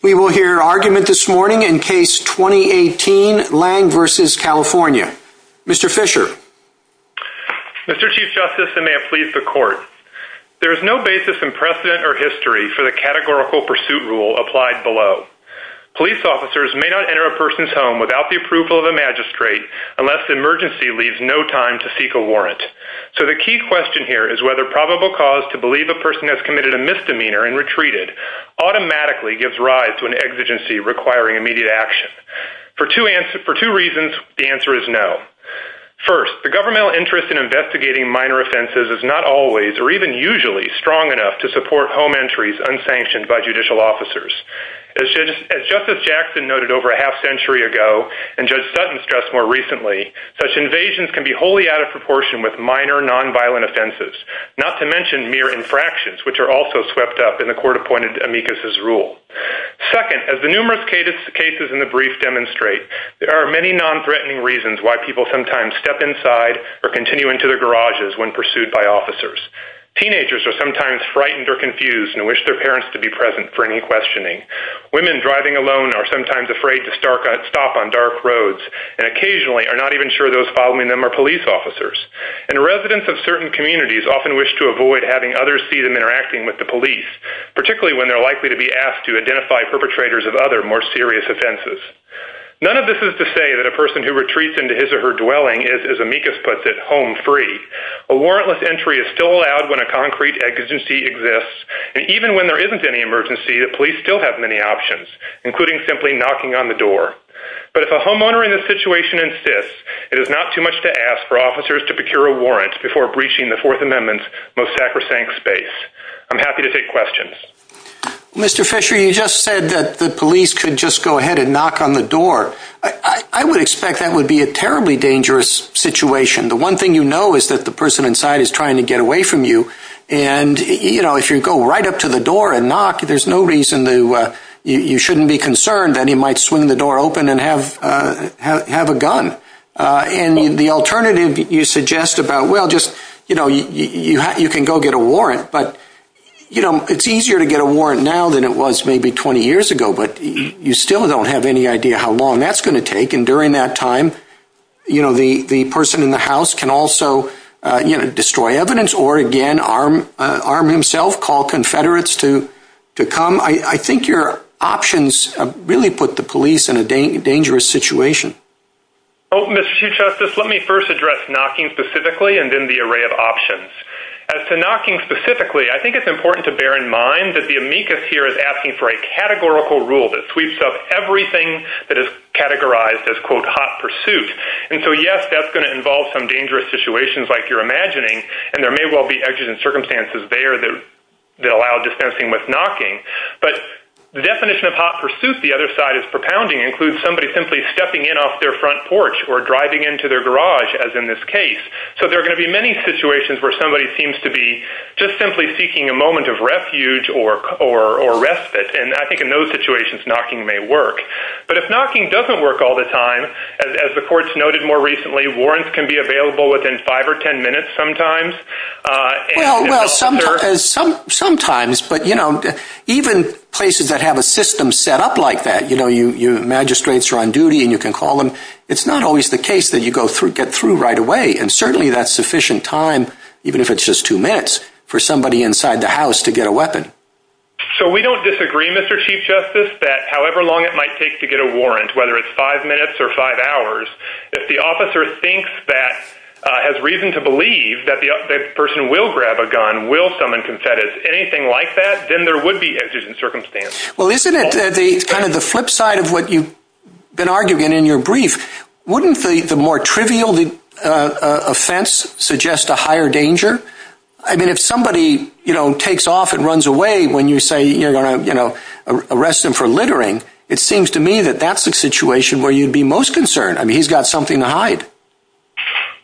We will hear argument this morning in Case 2018, Lange v. California. Mr. Fischer. Mr. Chief Justice, and may it please the Court, there is no basis in precedent or history for the categorical pursuit rule applied below. Police officers may not enter a person's home without the approval of a magistrate unless the emergency leaves no time to seek a warrant. So the key question here is whether probable cause to believe a person has committed a requiring immediate action. For two reasons, the answer is no. First, the governmental interest in investigating minor offenses is not always, or even usually, strong enough to support home entries unsanctioned by judicial officers. As Justice Jackson noted over a half-century ago, and Judge Sutton stressed more recently, such invasions can be wholly out of proportion with minor, non-violent offenses, not to mention mere infractions, which are also swept up in the Court-appointed amicus's rule. Second, as the numerous cases in the brief demonstrate, there are many non-threatening reasons why people sometimes step inside or continue into their garages when pursued by officers. Teenagers are sometimes frightened or confused and wish their parents to be present for any questioning. Women driving alone are sometimes afraid to stop on dark roads and occasionally are not even sure those following them are police officers. And residents of certain communities often wish to avoid having others see them interacting with the police, particularly when they're likely to be asked to identify perpetrators of other, more serious offenses. None of this is to say that a person who retreats into his or her dwelling is, as amicus puts it, home-free. A warrantless entry is still allowed when a concrete emergency exists, and even when there isn't any emergency, the police still have many options, including simply knocking on the door. But if a homeowner in this situation insists, it is not too much to ask for officers to procure a warrant before breaching the Fourth Amendment's most sacrosanct space. I'm happy to take questions. Mr. Fisher, you just said that the police could just go ahead and knock on the door. I would expect that would be a terribly dangerous situation. The one thing you know is that the person inside is trying to get away from you. And you know, if you go right up to the door and knock, there's no reason you shouldn't be concerned that he might swing the door open and have a gun. And the alternative you suggest about, well, you can go get a warrant, but it's easier to get a warrant now than it was maybe 20 years ago. But you still don't have any idea how long that's going to take. And during that time, the person in the house can also destroy evidence or, again, arm himself, call Confederates to come. I think your options really put the police in a dangerous situation. Mr. Chief Justice, let me first address knocking specifically and then the array of options. As to knocking specifically, I think it's important to bear in mind that the amicus here is asking for a categorical rule that sweeps up everything that is categorized as quote, hot pursuit. And so, yes, that's going to involve some dangerous situations like you're imagining. And there may well be edges and circumstances there that allow dispensing with knocking. But the definition of hot pursuit, the other side is propounding, includes somebody simply stepping in off their front porch or driving into their garage, as in this case. So, there are going to be many situations where somebody seems to be just simply seeking a moment of refuge or respite. And I think in those situations, knocking may work. But if knocking doesn't work all the time, as the courts noted more recently, warrants can be available within five or ten minutes sometimes. Well, sometimes. But, you know, even places that have a system set up like that, you know, your magistrates are on duty and you can call them. It's not always the case that you get through right away. And certainly, that's sufficient time, even if it's just two minutes, for somebody inside the house to get a weapon. So, we don't disagree, Mr. Chief Justice, that however long it might take to get a warrant, whether it's five minutes or five hours, if the officer thinks that, has reason to believe that the person will grab a gun, will summon confettis, anything like that, then there would be exigent circumstances. Well, isn't it kind of the flip side of what you've been arguing in your brief? Wouldn't the more trivial offense suggest a higher danger? I mean, if somebody, you know, takes off and runs away when you say you're going to, you know, arrest them for littering, it seems to me that that's the situation where you'd be most concerned. I mean, he's got something to hide.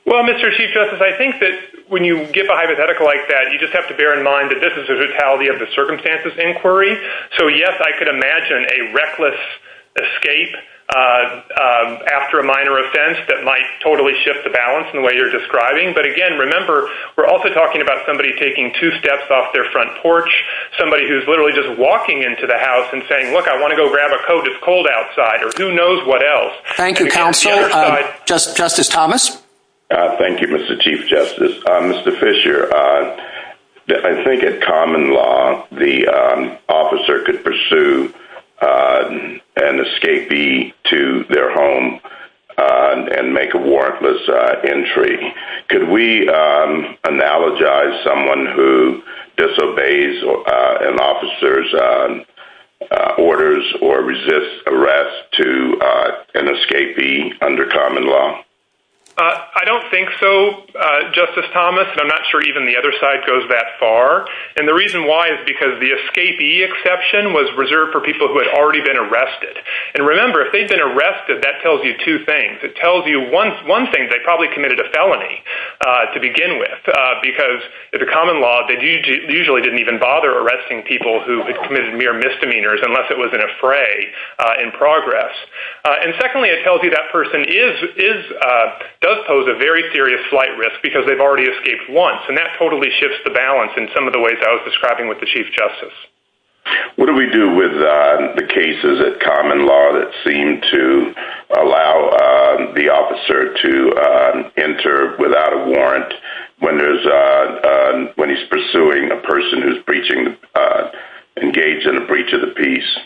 Well, Mr. Chief Justice, I think that when you give a hypothetical like that, you just have to bear in mind that this is a brutality of the circumstances inquiry. So, yes, I could imagine a reckless escape after a minor offense that might totally shift the balance in the way you're describing. But again, remember, we're also talking about somebody taking two steps off their front porch, somebody who's literally just walking into the house and saying, look, I want to go grab a Coke, it's cold outside, or who knows what else. Thank you, counsel. Justice Thomas. Thank you, Mr. Chief Justice. Mr. Fisher, I think in common law, the officer could pursue an escapee to their home and make a warrantless entry. Could we analogize someone who disobeys an officer's orders or resists arrest to an escapee under common law? I don't think so, Justice Thomas, and I'm not sure even the other side goes that far. And the reason why is because the escapee exception was reserved for people who had already been arrested. And remember, if they'd been arrested, that tells you two things. It tells you one thing, they probably committed a felony to begin with, because under common law, they usually didn't even bother arresting people who had committed mere misdemeanors unless it was an affray in progress. And secondly, it tells you that person does pose a very serious flight risk because they've already escaped once, and that totally shifts the balance in some of the ways I was describing with the Chief Justice. What do we do with the cases of common law that seem to allow the officer to enter without a warrant when he's pursuing a person who's engaged in a breach of the peace?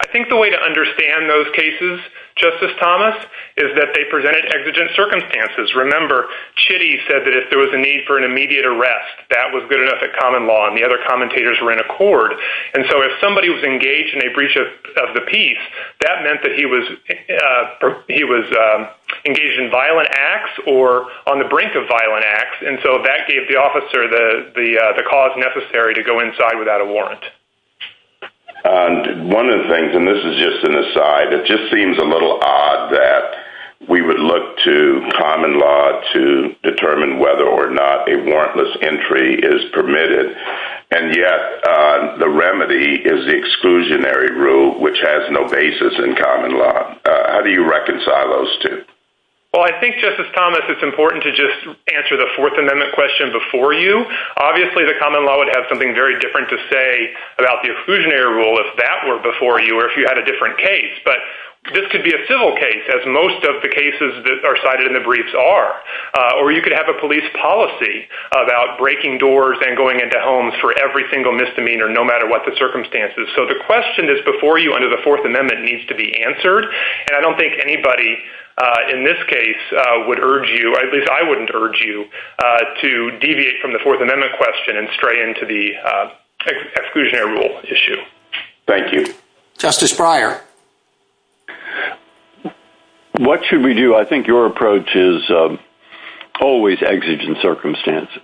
I think the way to understand those cases, Justice Thomas, is that they presented exigent circumstances. Remember, Chitty said that if there was a need for an immediate arrest, that was good enough at common law, and the other commentators were in accord. And so if somebody was engaged in a breach of the peace, that meant that he was engaged in violent acts or on the brink of violent acts. And so that gave the officer the cause necessary to go inside without a warrant. One of the things, and this is just an aside, it just seems a little odd that we would look to common law to determine whether or not a warrantless entry is permitted, and yet the remedy is the exclusionary rule, which has no basis in common law. How do you reconcile those two? Well, I think, Justice Thomas, it's important to just answer the Fourth Amendment question before you. Obviously, the common law would have something very different to say about the exclusionary rule if that were before you or if you had a different case. But this could be a civil case, as most of the cases that are cited in the briefs are. Or you could have a police policy about breaking doors and going into homes for every single misdemeanor, no matter what the circumstances. So the question is before you under the Fourth Amendment needs to be answered. And I don't think anybody in this case would urge you, or at least I wouldn't urge you, to deviate from the Fourth Amendment question and stray into the exclusionary rule issue. Thank you. Justice Breyer. What should we do? I think your approach is always exigent circumstances.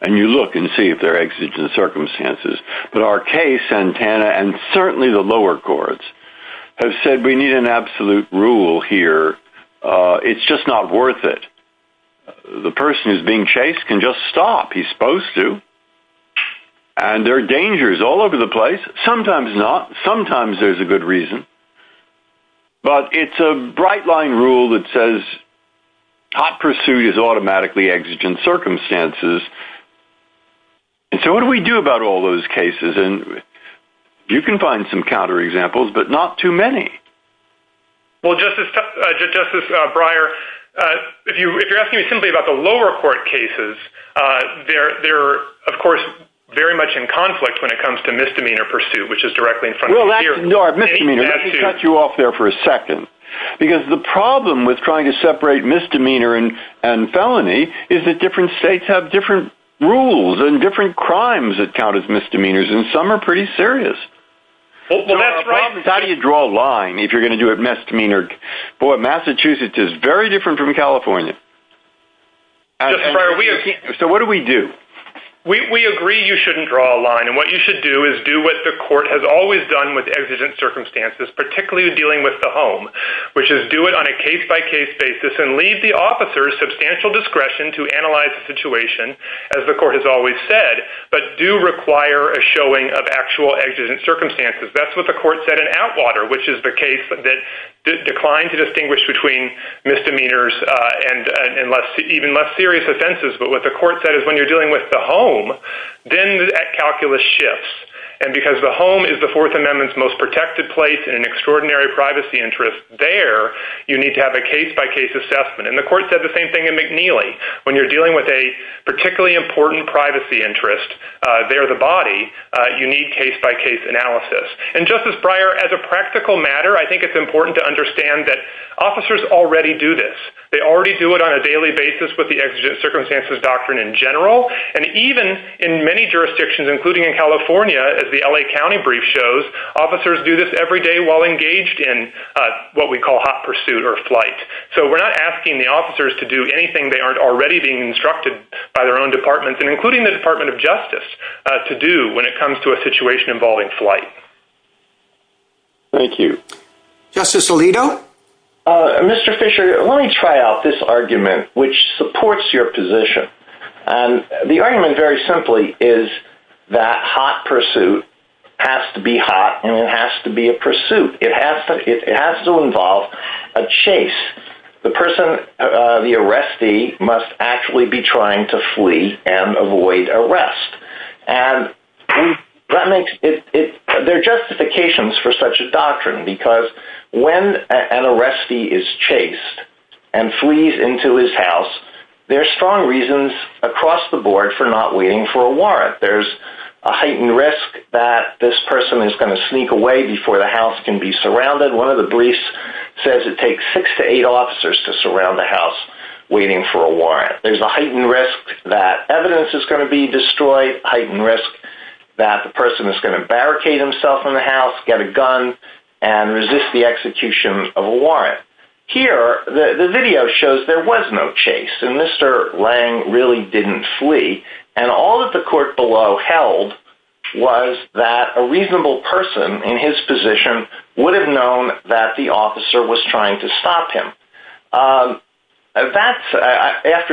And you look and see if they're exigent circumstances. But our case, Santana, and certainly the lower courts, have said we need an absolute rule here. It's just not worth it. The person who's being chased can just stop. He's supposed to. And there are dangers all over the place. Sometimes not. Sometimes there's a good reason. But it's a bright-line rule that says hot pursuit is automatically exigent circumstances. And so what do we do about all those cases? And you can find some counterexamples, but not too many. Well, Justice Breyer, if you're asking me simply about the lower court cases, they're, of course, very much in conflict when it comes to misdemeanor pursuit, which is directly in front of you. No, misdemeanor. Let me cut you off there for a second. Because the problem with trying to separate misdemeanor and felony is that different states have different rules and different crimes that count as misdemeanors, and some are pretty serious. How do you draw a line if you're going to do a misdemeanor? Boy, Massachusetts is very different from California. So what do we do? We agree you shouldn't draw a line. And what you should do is do what the court has always done with exigent circumstances, particularly dealing with the home, which is do it on a case-by-case basis and leave the officers substantial discretion to analyze the situation, as the court has always said, but do require a showing of actual exigent circumstances. That's what the court said in Atwater, which is the case that declined to distinguish between misdemeanors and even less serious offenses. But what the court said is when you're dealing with the home, then that calculus shifts. And because the home is the Fourth Amendment's most protected place and an extraordinary privacy interest there, you need to have a case-by-case assessment. And the court said the same thing in McNeely. When you're dealing with a particularly important privacy interest, there's a body. You need case-by-case analysis. And, Justice Breyer, as a practical matter, I think it's important to understand that officers already do this. They already do it on a daily basis with the exigent circumstances doctrine in general. And even in many jurisdictions, including in California, as the L.A. County brief shows, officers do this every day while engaged in what we call hot pursuit or flight. So we're not asking the officers to do anything they aren't already being instructed by their own departments, and including the Department of Justice, to do when it comes to a situation involving flight. Thank you. Justice Alito? Mr. Fisher, let me try out this argument, which supports your position. The argument, very simply, is that hot pursuit has to be hot and it has to be a pursuit. It has to involve a chase. The person, the arrestee, must actually be trying to flee and avoid arrest. And there are justifications for such a doctrine because when an arrestee is chased and flees into his house, there are strong reasons across the board for not waiting for a warrant. In fact, there's a heightened risk that this person is going to sneak away before the house can be surrounded. One of the briefs says it takes six to eight officers to surround the house waiting for a warrant. There's a heightened risk that evidence is going to be destroyed, a heightened risk that the person is going to barricade himself in the house, get a gun, and resist the execution of a warrant. Here, the video shows there was no chase, and Mr. Lange really didn't flee. And all that the court below held was that a reasonable person in his position would have known that the officer was trying to stop him. After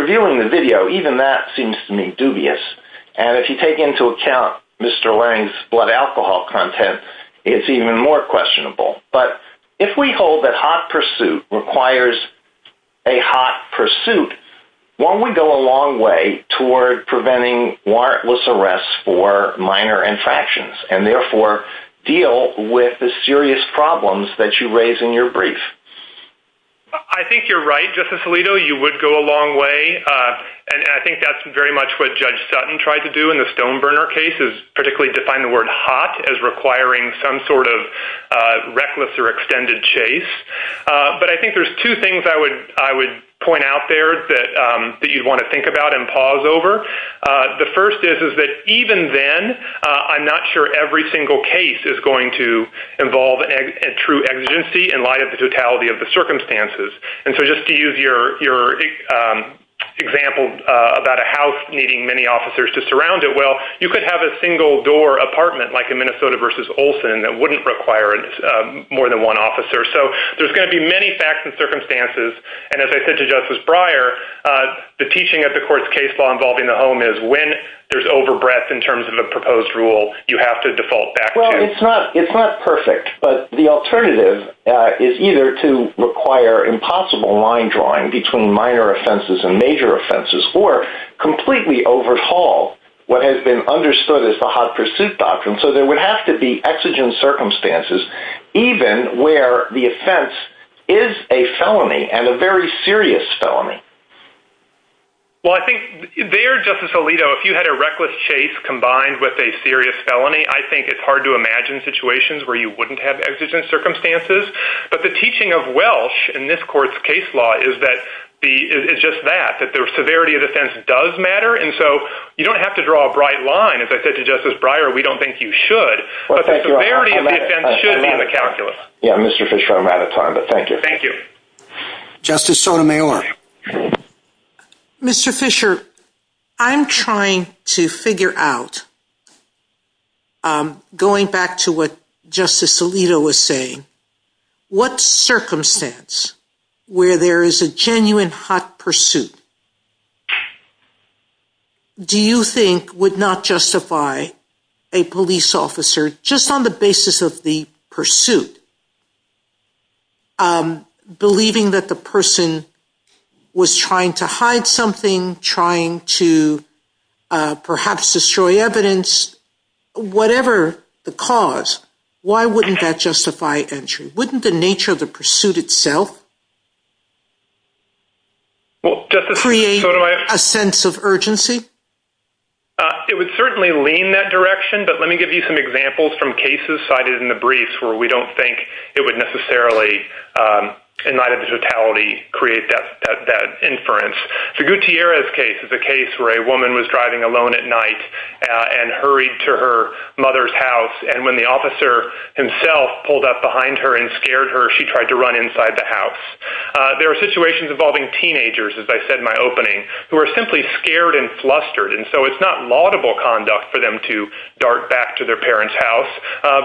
viewing the video, even that seems to me dubious. And if you take into account Mr. Lange's blood alcohol content, it's even more questionable. But if we hold that hot pursuit requires a hot pursuit, won't we go a long way toward preventing warrantless arrests for minor infractions, and therefore deal with the serious problems that you raise in your brief? I think you're right, Justice Alito. You would go a long way. And I think that's very much what Judge Sutton tried to do in the Stoneburner case, is particularly define the word hot as requiring some sort of reckless or extended chase. But I think there's two things I would point out there that you'd want to think about and pause over. The first is that even then, I'm not sure every single case is going to involve a true exigency in light of the totality of the circumstances. And so just to use your example about a house needing many officers to surround it, well, you could have a single-door apartment like in Minnesota v. Olson that wouldn't require more than one officer. So there's going to be many facts and circumstances. And as I said to Justice Breyer, the teaching of the court's case law involving the home is, when there's overbreath in terms of a proposed rule, you have to default back to it. It's not perfect, but the alternative is either to require impossible line drawing between minor offenses and major offenses or completely overhaul what has been understood as the hot pursuit doctrine. So there would have to be exigent circumstances, even where the offense is a felony and a very serious felony. Well, I think there, Justice Alito, if you had a reckless chase combined with a serious felony, I think it's hard to imagine situations where you wouldn't have exigent circumstances. But the teaching of Welsh in this court's case law is just that, that the severity of the offense does matter. And so you don't have to draw a bright line. As I said to Justice Breyer, we don't think you should. But the severity of the offense should be in the calculus. Yeah, Mr. Fisher, I'm out of time, but thank you. Thank you. Justice Sotomayor. Mr. Fisher, I'm trying to figure out, going back to what Justice Alito was saying, what circumstance where there is a genuine hot pursuit do you think would not justify a police officer, just on the basis of the pursuit, believing that the person was trying to hide something, trying to perhaps destroy evidence, whatever the cause, why wouldn't that justify entry? Wouldn't the nature of the pursuit itself create a sense of urgency? It would certainly lean that direction, but let me give you some examples from cases cited in the briefs where we don't think it would necessarily, in light of the totality, create that inference. So Gutierrez's case is a case where a woman was driving alone at night and hurried to her mother's house, and when the officer himself pulled up behind her and scared her, she tried to run inside the house. There are situations involving teenagers, as I said in my opening, who are simply scared and flustered, and so it's not laudable conduct for them to dart back to their parents' house,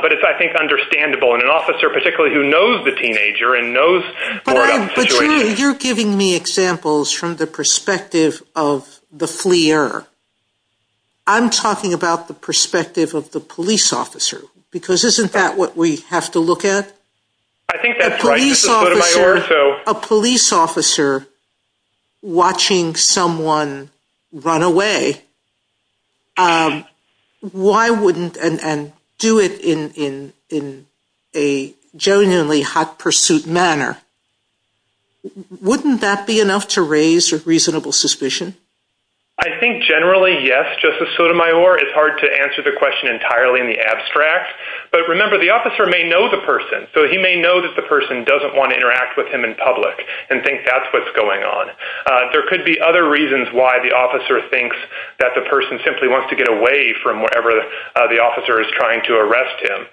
but it's, I think, understandable in an officer particularly who knows the teenager and knows more about the situation. You're giving me examples from the perspective of the flier. I'm talking about the perspective of the police officer, because isn't that what we have to look at? I think that's right, Justice Sotomayor. A police officer watching someone run away, why wouldn't, and do it in a genuinely hot pursuit manner, wouldn't that be enough to raise a reasonable suspicion? I think generally, yes, Justice Sotomayor. It's hard to answer the question entirely in the abstract, but remember, the officer may know the person, so he may know that the person doesn't want to interact with him in public and think that's what's going on. There could be other reasons why the officer thinks that the person simply wants to get away from wherever the officer is trying to arrest him.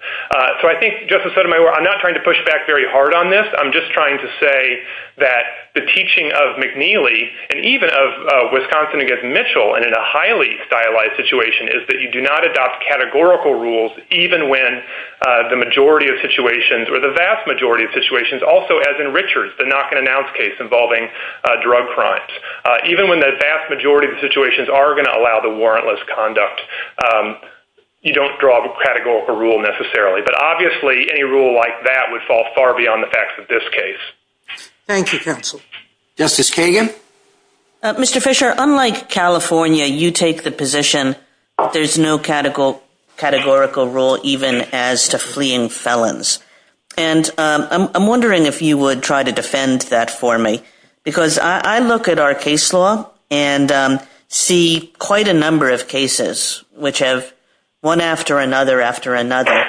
So I think, Justice Sotomayor, I'm not trying to push back very hard on this. I'm just trying to say that the teaching of McNeely and even of Wisconsin against Mitchell and in a highly stylized situation is that you do not adopt categorical rules even when the majority of situations or the vast majority of situations, also as in Richards, the knock-and-announce case involving drug crimes, even when the vast majority of situations are going to allow the warrantless conduct, you don't draw a categorical rule necessarily. But obviously, a rule like that would fall far beyond the facts of this case. Thank you, counsel. Justice Kagan? Mr. Fisher, unlike California, you take the position there's no categorical rule even as to fleeing felons. And I'm wondering if you would try to defend that for me because I look at our case law and see quite a number of cases which have, one after another after another,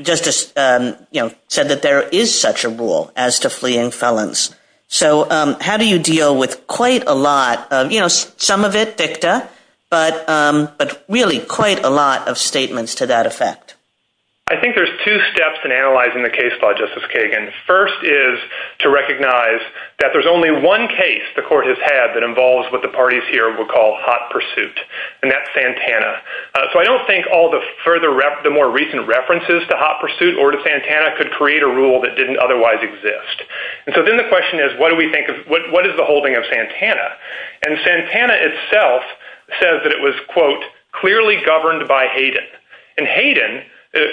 Justice said that there is such a rule as to fleeing felons. So how do you deal with quite a lot of, you know, some of it dicta, but really quite a lot of statements to that effect? I think there's two steps in analyzing the case law, Justice Kagan. First is to recognize that there's only one case the court has had that involves what the parties here would call hot pursuit, and that's Santana. So I don't think all the more recent references to hot pursuit or to Santana could create a rule that didn't otherwise exist. And so then the question is, what is the holding of Santana? And Santana itself says that it was, quote, clearly governed by Hayden. And Hayden,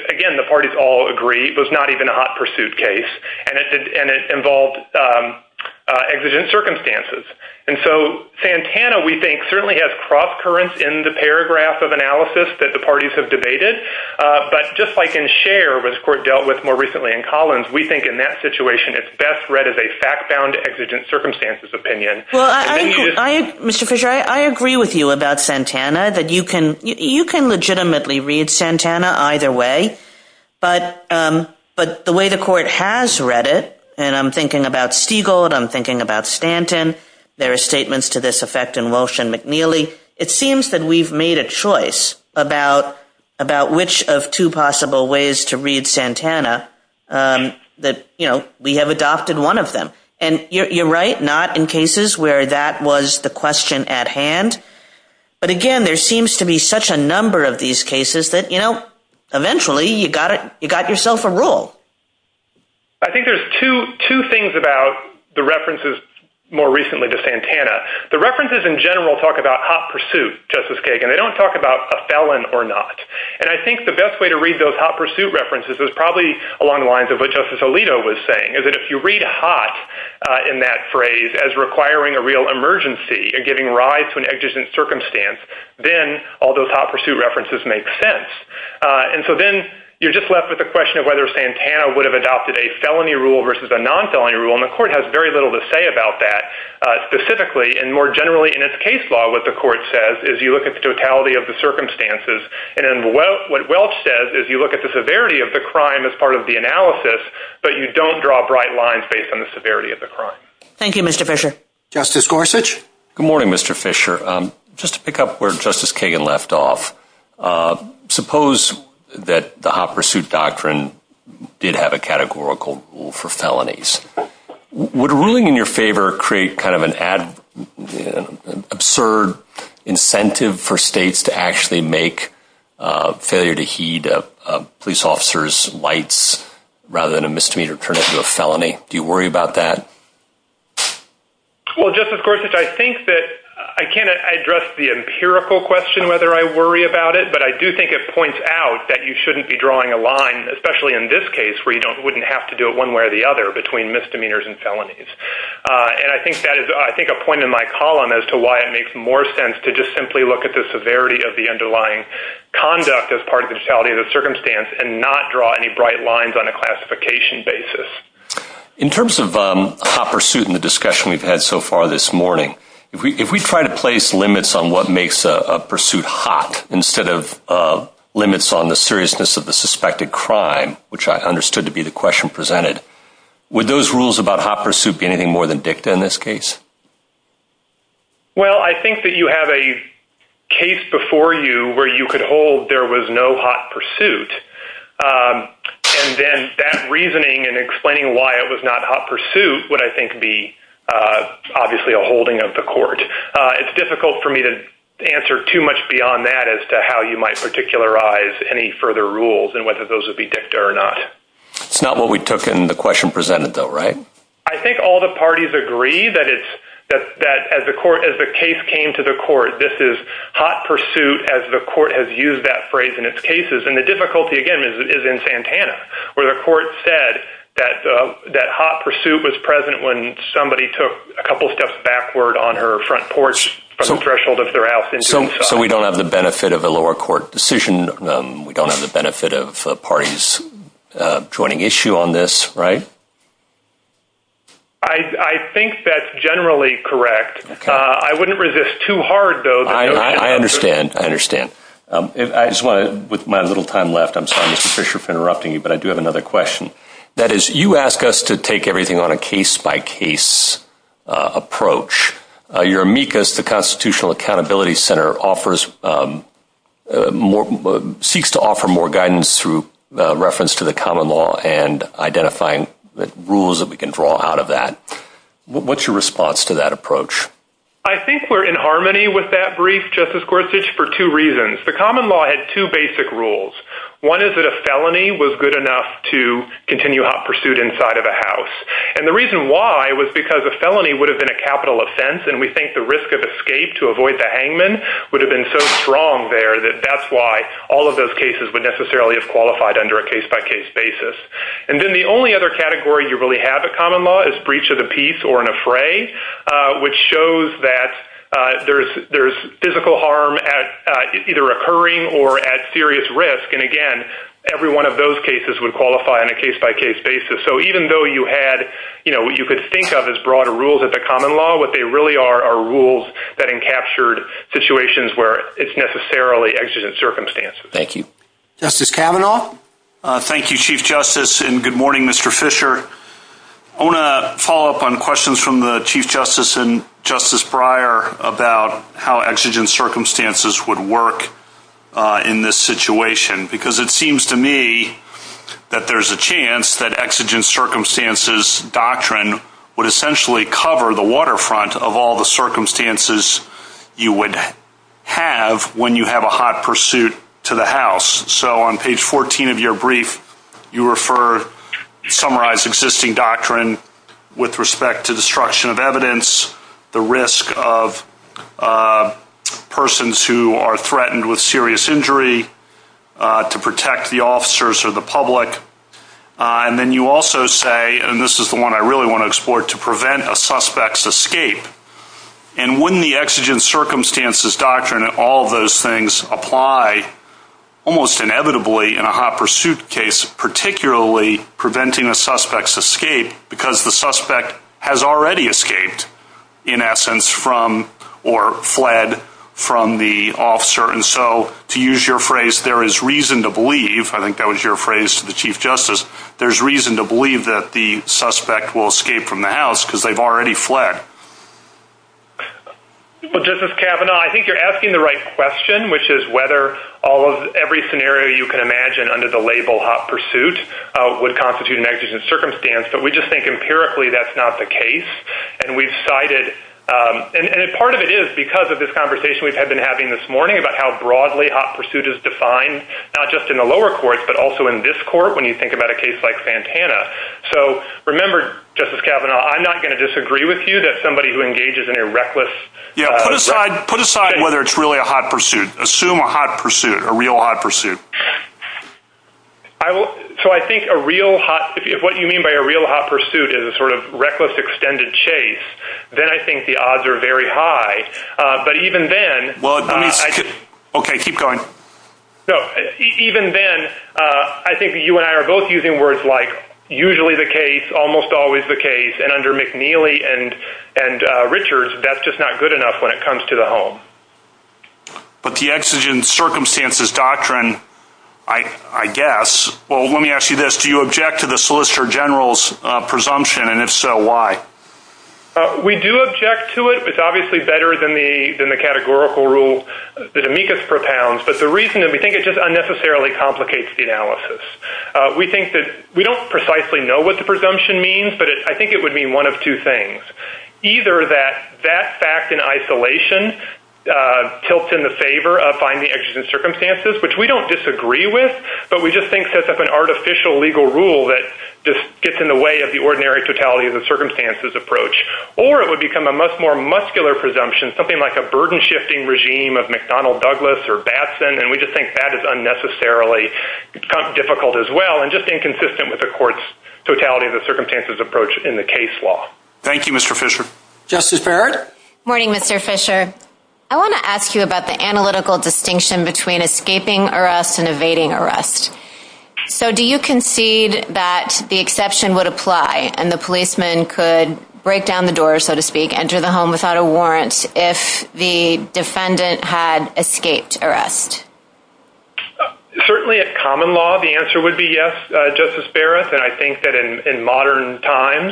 again, the parties all agree, was not even a hot pursuit case, and it involved exigent circumstances. And so Santana, we think, certainly has cross currents in the paragraph of analysis that the parties have debated, but just like in Scher, which the court dealt with more recently in Collins, we think in that situation it's best read as a fact-bound exigent circumstances opinion. Well, Mr. Kershaw, I agree with you about Santana, that you can legitimately read Santana either way, but the way the court has read it, and I'm thinking about Stiegel and I'm thinking about Stanton, there are statements to this effect in Walsh and McNeely, it seems that we've made a choice about which of two possible ways to read Santana that, you know, we have adopted one of them. And you're right, not in cases where that was the question at hand, but again, there seems to be such a number of these cases that, you know, eventually you got yourself a rule. I think there's two things about the references more recently to Santana. The references in general talk about hot pursuit, Justice Kagan. They don't talk about a felon or not. And I think the best way to read those hot pursuit references is probably along the lines of what Justice Alito was saying, is that if you read hot in that phrase as requiring a real emergency, giving rise to an exigent circumstance, then all those hot pursuit references make sense. And so then you're just left with the question of whether Santana would have adopted a felony rule versus a non-felony rule, and the court has very little to say about that specifically. And more generally in its case law, what the court says is you look at the totality of the circumstances. And what Welsh says is you look at the severity of the crime as part of the analysis, but you don't draw bright lines based on the severity of the crime. Thank you, Mr. Fisher. Justice Gorsuch. Good morning, Mr. Fisher. Just to pick up where Justice Kagan left off, suppose that the hot pursuit doctrine did have a categorical rule for felonies. Would ruling in your favor create kind of an absurd incentive for states to actually make failure to heed a police officer's lights rather than a misdemeanor turn into a felony? Do you worry about that? Well, Justice Gorsuch, I think that I can't address the empirical question whether I worry about it, but I do think it points out that you shouldn't be drawing a line, especially in this case, where you wouldn't have to do it one way or the other between misdemeanors and felonies. And I think that is, I think, a point in my column as to why it makes more sense to just simply look at the severity of the underlying conduct as part of the totality of the circumstance and not draw any bright lines on a classification basis. In terms of hot pursuit and the discussion we've had so far this morning, if we try to place limits on what makes a pursuit hot instead of limits on the seriousness of the suspected crime, which I understood to be the question presented, would those rules about hot pursuit be anything more than dicta in this case? Well, I think that you have a case before you where you could hold there was no hot pursuit. And then that reasoning and explaining why it was not hot pursuit would, I think, be obviously a holding of the court. It's difficult for me to answer too much beyond that as to how you might particularize any further rules and whether those would be dicta or not. It's not what we took in the question presented, though, right? I think all the parties agree that as the case came to the court, this is hot pursuit, as the court has used that phrase in its cases. And the difficulty, again, is in Santana, where the court said that hot pursuit was present when somebody took a couple steps backward on her front porch threshold if they're asked. So we don't have the benefit of a lower court decision. We don't have the benefit of parties joining issue on this, right? I think that's generally correct. I wouldn't resist too hard, though. I understand. I understand. With my little time left, I'm sorry, Mr. Fisher, for interrupting you, but I do have another question. That is, you ask us to take everything on a case-by-case approach. Your amicus, the Constitutional Accountability Center, offers more – seeks to offer more guidance through reference to the common law and identifying the rules that we can draw out of that. What's your response to that approach? I think we're in harmony with that brief, Justice Gorsuch, for two reasons. The common law had two basic rules. One is that a felony was good enough to continue hot pursuit inside of a house. And the reason why was because a felony would have been a capital offense, and we think the risk of escape to avoid the hangman would have been so strong there that that's why all of those cases would necessarily have qualified under a case-by-case basis. And then the only other category you really have in common law is breach of the peace or an affray, which shows that there's physical harm either occurring or at serious risk. And, again, every one of those cases would qualify on a case-by-case basis. So even though you had – you know, you could think of as broader rules at the common law, what they really are are rules that encaptured situations where it's necessarily exigent circumstances. Thank you. Justice Kavanaugh? Thank you, Chief Justice, and good morning, Mr. Fisher. I want to follow up on questions from the Chief Justice and Justice Breyer about how exigent circumstances would work in this situation, because it seems to me that there's a chance that exigent circumstances doctrine would essentially cover the waterfront of all the circumstances you would have when you have a hot pursuit to the house. So on page 14 of your brief, you refer – summarize existing doctrine with respect to destruction of evidence, the risk of persons who are threatened with serious injury, to protect the officers or the public. And then you also say – and this is the one I really want to explore – to prevent a suspect's escape. And when the exigent circumstances doctrine and all those things apply, almost inevitably in a hot pursuit case, particularly preventing a suspect's escape, because the suspect has already escaped, in essence, from – or fled from the officer. And so, to use your phrase, there is reason to believe – I think that was your phrase to the Chief Justice – there's reason to believe that the suspect will escape from the house because they've already fled. Well, Justice Kavanaugh, I think you're asking the right question, which is whether every scenario you can imagine under the label hot pursuit would constitute an exigent circumstance. But we just think empirically that's not the case. And we've cited – and part of it is because of this conversation we've been having this morning about how broadly hot pursuit is defined, not just in the lower courts, but also in this court, when you think about a case like Santana. So, remember, Justice Kavanaugh, I'm not going to disagree with you that somebody who engages in a reckless – Yeah, put aside whether it's really a hot pursuit. Assume a hot pursuit, a real hot pursuit. So I think a real hot – if what you mean by a real hot pursuit is a sort of reckless extended chase, then I think the odds are very high. But even then – Well, let me – okay, keep going. No, even then, I think you and I are both using words like usually the case, almost always the case. And under McNeely and Richards, that's just not good enough when it comes to the home. But the exigent circumstances doctrine, I guess – well, let me ask you this. Do you object to the Solicitor General's presumption? And if so, why? We do object to it. It's obviously better than the categorical rule that amicus propounds. But the reason – we think it just unnecessarily complicates the analysis. We think that – we don't precisely know what the presumption means, but I think it would mean one of two things. Either that that fact in isolation tilts in the favor of finding exigent circumstances, which we don't disagree with, but we just think that's an artificial legal rule that gets in the way of the ordinary totality of the circumstances approach. Or it would become a much more muscular presumption, something like a burden-shifting regime of McDonnell Douglas or Batson, and we just think that is unnecessarily difficult as well, and just inconsistent with the court's totality of the circumstances approach in the case law. Thank you, Mr. Fisher. Justice Barrett? Good morning, Mr. Fisher. I want to ask you about the analytical distinction between escaping arrest and evading arrest. So, do you concede that the exception would apply, and the policeman could break down the door, so to speak, enter the home without a warrant, if the defendant had escaped arrest? Certainly, at common law, the answer would be yes, Justice Barrett. And I think that in modern times,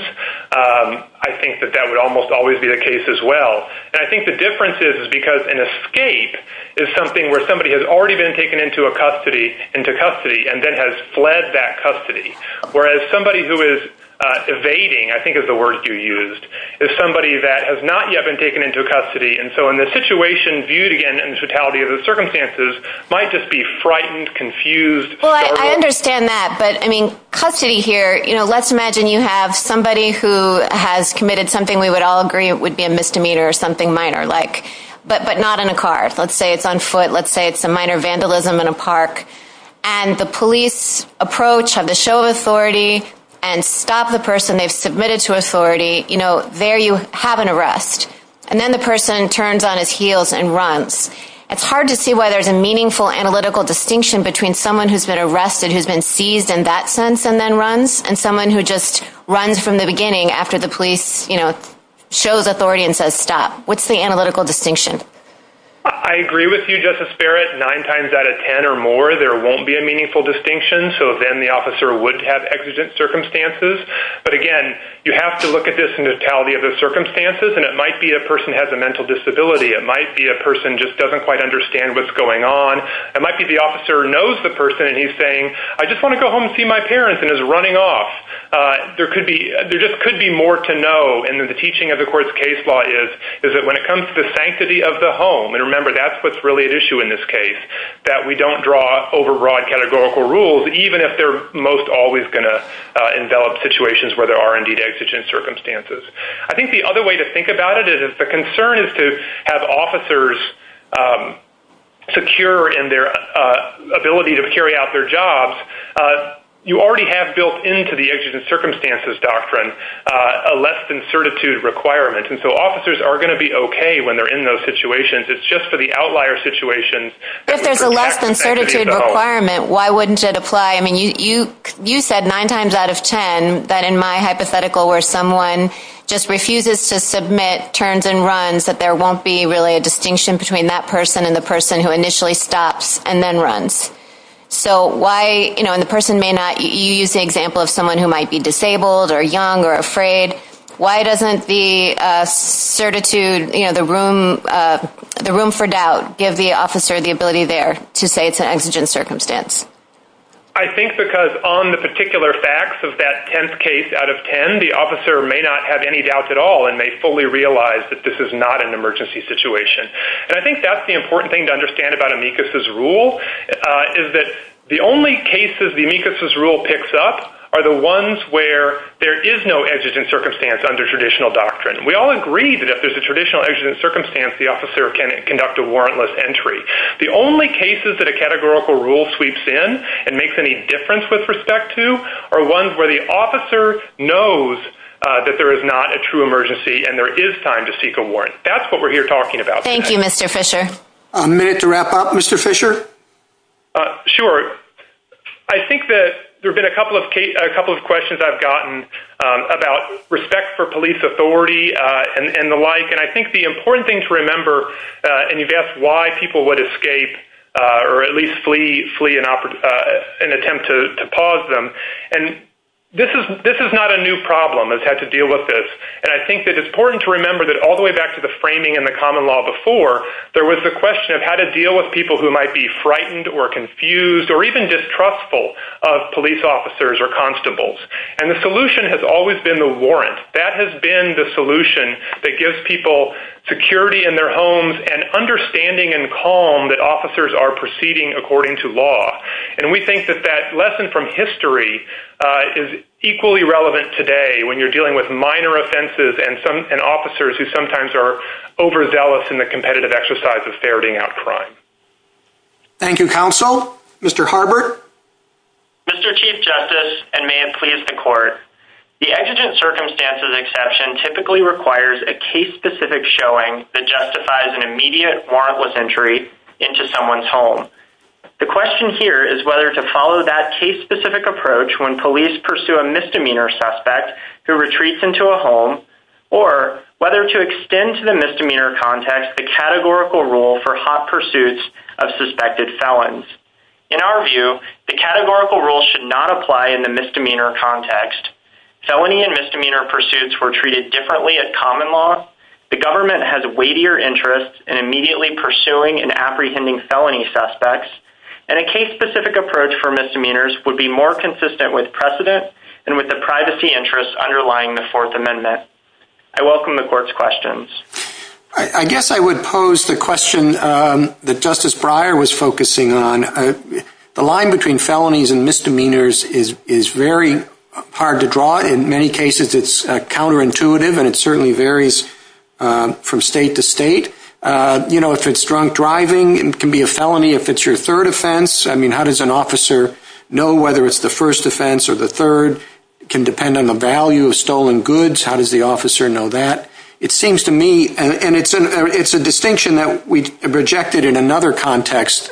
I think that that would almost always be the case as well. And I think the difference is because an escape is something where somebody has already been taken into custody and then has fled that custody. Whereas somebody who is evading, I think is the word you used, is somebody that has not yet been taken into custody. And so in this situation, duty and totality of the circumstances might just be frightened, confused. Well, I understand that, but, I mean, custody here, you know, let's imagine you have somebody who has committed something we would all agree would be a misdemeanor or something minor-like, but not in a car. Let's say it's on foot. Let's say it's a minor vandalism in a park. And the police approach, have the show of authority, and stop the person they've submitted to authority. You know, there you have an arrest. And then the person turns on his heels and runs. It's hard to see why there's a meaningful analytical distinction between someone who's been arrested who's been seized in that sense and then runs, and someone who just runs from the beginning after the police, you know, shows authority and says stop. What's the analytical distinction? I agree with you, Justice Barrett. Nine times out of ten or more, there won't be a meaningful distinction, so then the officer would have exigent circumstances. But, again, you have to look at this in the totality of the circumstances, and it might be a person has a mental disability. It might be a person just doesn't quite understand what's going on. It might be the officer knows the person, and he's saying, I just want to go home and see my parents, and is running off. There just could be more to know. And the teaching of the court's case law is that when it comes to the sanctity of the home, and remember that's what's really at issue in this case, that we don't draw over broad categorical rules, even if they're most always going to envelop situations where there are indeed exigent circumstances. I think the other way to think about it is if the concern is to have officers secure in their ability to carry out their jobs, you already have built into the exigent circumstances doctrine a less than certitude requirement, and so officers are going to be okay when they're in those situations. It's just for the outlier situations. If there's a less than certitude requirement, why wouldn't it apply? I mean, you said nine times out of ten that in my hypothetical where someone just refuses to submit, turns and runs, that there won't be really a distinction between that person and the person who initially stops and then runs. So why, you know, and the person may not, you used the example of someone who might be disabled or young or afraid, why doesn't the certitude, you know, the room for doubt, give the officer the ability there to say it's an exigent circumstance? I think because on the particular facts of that tenth case out of ten, the officer may not have any doubts at all and may fully realize that this is not an emergency situation. And I think that's the important thing to understand about amicus's rule is that the only cases the amicus's rule picks up are the ones where there is no exigent circumstance under traditional doctrine. We all agree that if there's a traditional exigent circumstance, the officer can conduct a warrantless entry. The only cases that a categorical rule sweeps in and makes any difference with respect to are ones where the officer knows that there is not a true emergency and there is time to seek a warrant. That's what we're here talking about. Thank you, Mr. Fisher. A minute to wrap up, Mr. Fisher. Sure. I think that there have been a couple of questions I've gotten about respect for police authority and the like. And I think the important thing to remember, and you've asked why people would escape or at least flee an attempt to pause them, and this is not a new problem that's had to deal with this. And I think that it's important to remember that all the way back to the framing in the common law before, there was the question of how to deal with people who might be frightened or confused or even distrustful of police officers or constables. And the solution has always been the warrant. That has been the solution that gives people security in their homes and understanding and calm that officers are proceeding according to law. And we think that that lesson from history is equally relevant today when you're dealing with minor offenses and officers who sometimes are overzealous in the competitive exercise of ferreting out crime. Thank you, Counsel. Mr. Harbert. Mr. Chief Justice, and may it please the Court, the exigent circumstances exception typically requires a case-specific showing that justifies an immediate warrantless entry into someone's home. The question here is whether to follow that case-specific approach when police pursue a misdemeanor suspect who retreats into a home or whether to extend to the misdemeanor context the categorical rule for hot pursuits of suspected felons. In our view, the categorical rule should not apply in the misdemeanor context. Felony and misdemeanor pursuits were treated differently at common law. The government has a weightier interest in immediately pursuing and apprehending felony suspects. And a case-specific approach for misdemeanors would be more consistent with precedent and with the privacy interests underlying the Fourth Amendment. I welcome the Court's questions. I guess I would pose the question that Justice Breyer was focusing on. The line between felonies and misdemeanors is very hard to draw. In many cases, it's counterintuitive, and it certainly varies from state to state. You know, if it's drunk driving, it can be a felony if it's your third offense. I mean, how does an officer know whether it's the first offense or the third? It can depend on the value of stolen goods. How does the officer know that? It seems to me, and it's a distinction that we've rejected in another context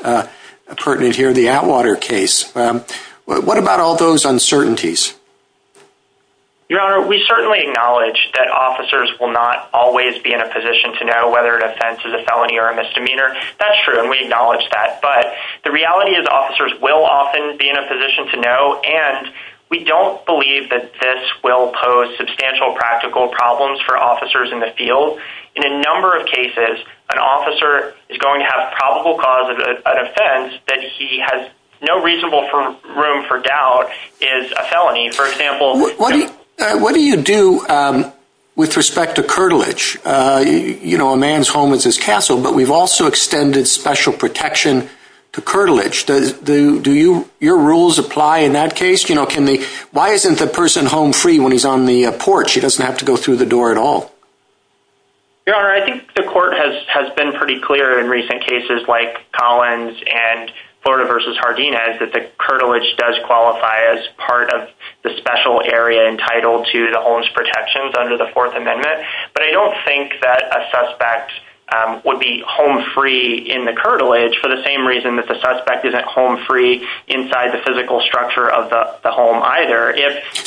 pertinent here, the Atwater case. What about all those uncertainties? Your Honor, we certainly acknowledge that officers will not always be in a position to know whether an offense is a felony or a misdemeanor. That's true, and we acknowledge that. But the reality is officers will often be in a position to know, and we don't believe that this will pose substantial practical problems for officers in the field. In a number of cases, an officer is going to have probable cause of an offense that he has no reasonable room for doubt is a felony. For example, What do you do with respect to curtilage? You know, a man's home is his castle, but we've also extended special protection to curtilage. Do your rules apply in that case? Why isn't the person home free when he's on the porch? He doesn't have to go through the door at all. Your Honor, I think the court has been pretty clear in recent cases like Collins and Florida v. Hardina that the curtilage does qualify as part of the special area entitled to the homeless protections under the Fourth Amendment. But I don't think that a suspect would be home free in the curtilage for the same reason that the suspect isn't home free inside the physical structure of the home either.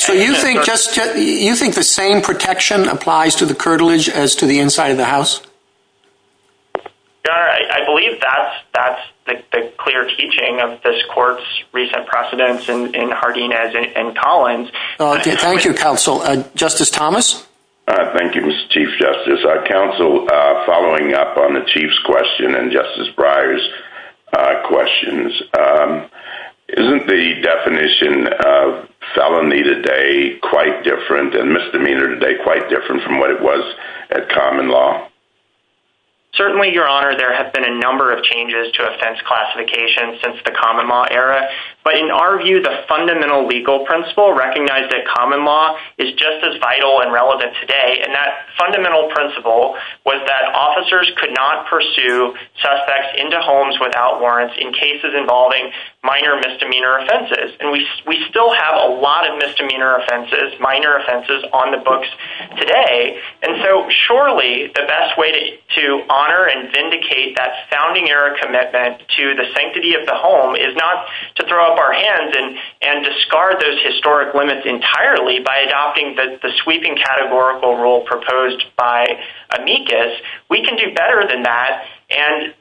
Do you think the same protection applies to the curtilage as to the inside of the house? Your Honor, I believe that's the clear teaching of this court's recent precedents in Hardina and Collins. Thank you, Counsel. Justice Thomas? Thank you, Mr. Chief Justice. Counsel, following up on the Chief's question and Justice Breyer's questions, isn't the definition of felony today quite different and misdemeanor today quite different from what it was at common law? Certainly, Your Honor, there have been a number of changes to offense classification since the common law era. But in our view, the fundamental legal principle recognized at common law is just as vital and relevant today. And that fundamental principle was that officers could not pursue suspects into homes without warrants in cases involving minor misdemeanor offenses. And we still have a lot of misdemeanor offenses, minor offenses, on the books today. And so surely the best way to honor and vindicate that founding era commitment to the sanctity of the home is not to throw up our hands and discard those historic limits entirely by adopting the sweeping categorical rule proposed by amicus. We can do better than that. And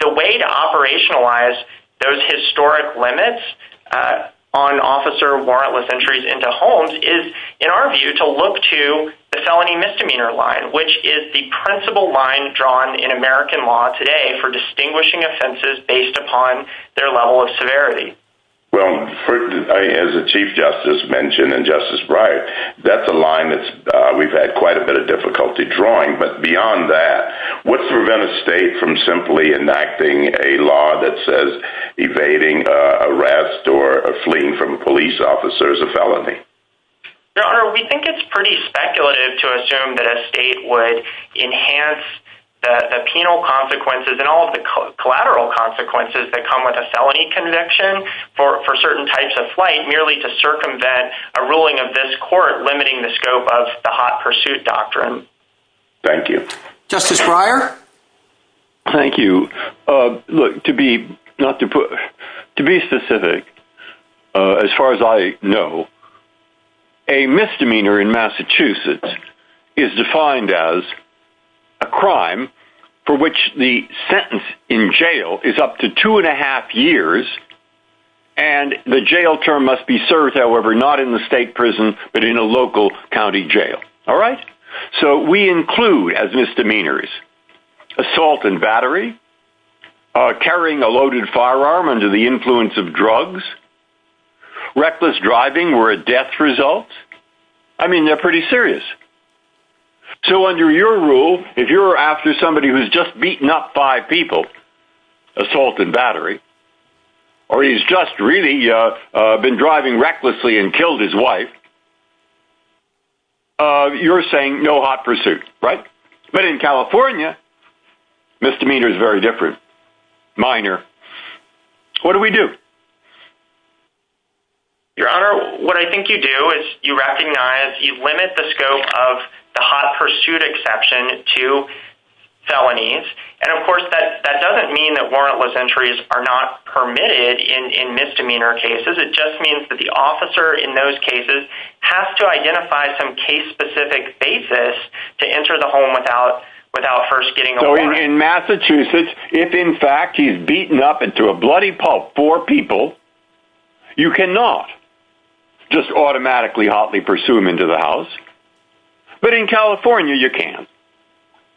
the way to operationalize those historic limits on officer warrantless entries into homes is, in our view, to look to the felony misdemeanor line, which is the principle line drawn in American law today for distinguishing offenses based upon their level of severity. Well, as the Chief Justice mentioned and Justice Breyer, that's a line that we've had quite a bit of difficulty drawing. But beyond that, what prevents a state from simply enacting a law that says evading arrest or fleeing from a police officer is a felony? Your Honor, we think it's pretty speculative to assume that a state would enhance the penal consequences and all of the collateral consequences that come with a felony conviction for certain types of flight merely to circumvent a ruling of this court limiting the scope of the hot pursuit doctrine. Thank you. Justice Breyer. Thank you. Look, to be specific, as far as I know, a misdemeanor in Massachusetts is defined as a crime for which the sentence in jail is up to two and a half years, and the jail term must be served, however, not in the state prison, but in a local county jail. All right? So we include, as misdemeanors, assault and battery, carrying a loaded firearm under the influence of drugs, reckless driving where a death results. I mean, they're pretty serious. So under your rule, if you're after somebody who's just beaten up five people, assault and battery, or he's just really been driving recklessly and killed his wife, you're saying no hot pursuit, right? But in California, misdemeanor is very different, minor. What do we do? Your Honor, what I think you do is you recognize you limit the scope of the hot pursuit exception to felonies, and, of course, that doesn't mean that warrantless entries are not permitted in misdemeanor cases. It just means that the officer in those cases has to identify some case-specific basis to enter the home without first getting a warrant. So in Massachusetts, if, in fact, he's beaten up into a bloody pulp four people, you cannot just automatically hotly pursue him into the house. But in California, you can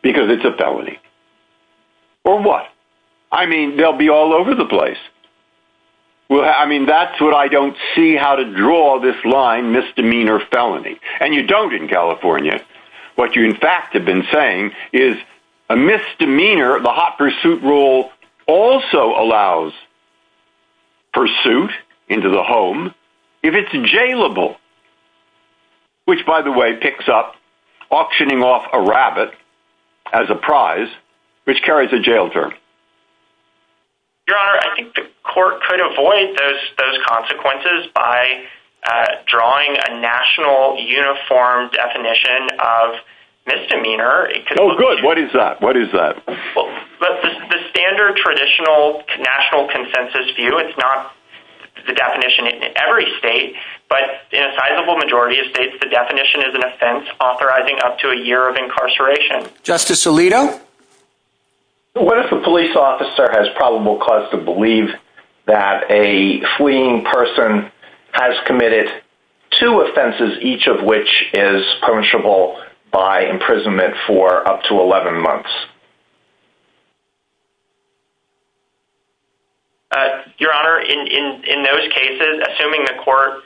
because it's a felony. Or what? I mean, they'll be all over the place. I mean, that's what I don't see how to draw this line, misdemeanor felony. And you don't in California. What you, in fact, have been saying is a misdemeanor, the hot pursuit rule, also allows pursuit into the home if it's jailable, which, by the way, picks up auctioning off a rabbit as a prize, which carries a jail term. Your Honor, I think the court could avoid those consequences by drawing a national uniform definition of misdemeanor. Oh, good. What is that? What is that? The standard traditional national consensus view, it's not the definition in every state, but in a sizable majority of states, the definition is an offense authorizing up to a year of incarceration. Justice Alito? What if a police officer has probable cause to believe that a fleeing person has committed two offenses, each of which is punishable by imprisonment for up to 11 months? Your Honor, in those cases, assuming the court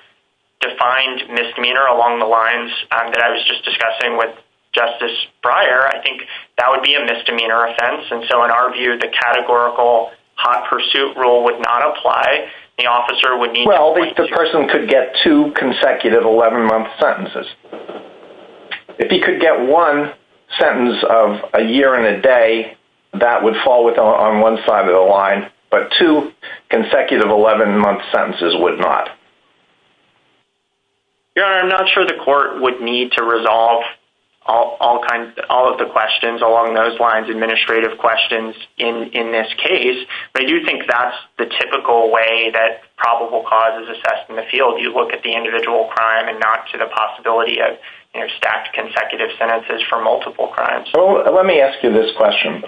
defined misdemeanor along the lines that I was just discussing with Justice Breyer, I think that would be a misdemeanor offense. And so, in our view, the categorical hot pursuit rule would not apply. The officer would need to... Well, the person could get two consecutive 11-month sentences. If he could get one sentence of a year and a day, that would fall on one side of the line, but two consecutive 11-month sentences would not. Your Honor, I'm not sure the court would need to resolve all of the questions along those lines, administrative questions, in this case. But you think that's the typical way that probable cause is assessed in the field. You look at the individual crime and not to the possibility of staffed consecutive sentences for multiple crimes. Well, let me ask you this question.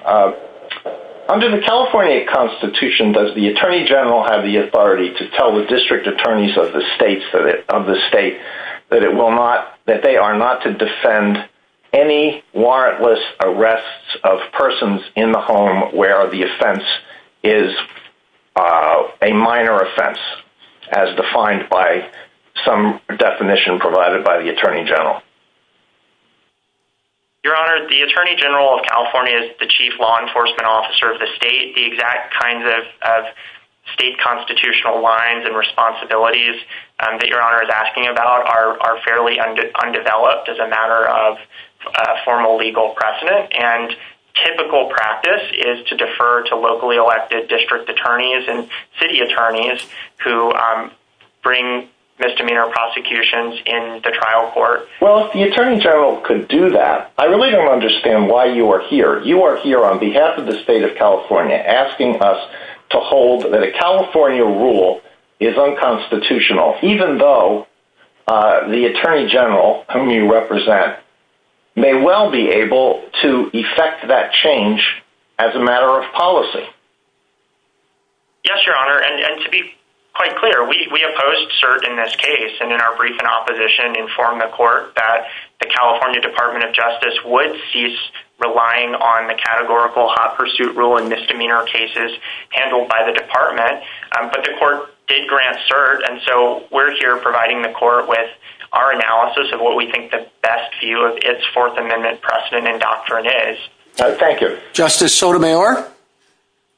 Under the California Constitution, does the Attorney General have the authority to tell the district attorneys of the state that they are not to defend any warrantless arrests of persons in the home where the offense is a minor offense, as defined by some definition provided by the Attorney General? Your Honor, the Attorney General of California is the chief law enforcement officer of the state. The exact kinds of state constitutional lines and responsibilities that Your Honor is asking about are fairly undeveloped as a matter of formal legal precedent. And typical practice is to defer to locally elected district attorneys and city attorneys who bring misdemeanor prosecutions in the trial court. Well, if the Attorney General could do that, I really don't understand why you are here. You are here on behalf of the state of California asking us to hold that a California rule is unconstitutional, even though the Attorney General, whom you represent, may well be able to effect that change as a matter of policy. Yes, Your Honor, and to be quite clear, we opposed cert in this case, and in our brief in opposition, informed the court that the California Department of Justice would cease relying on the categorical hot pursuit rule in misdemeanor cases handled by the department. But the court did grant cert, and so we're here providing the court with our analysis of what we think the best view of its Fourth Amendment precedent and doctrine is. Thank you. Justice Sotomayor?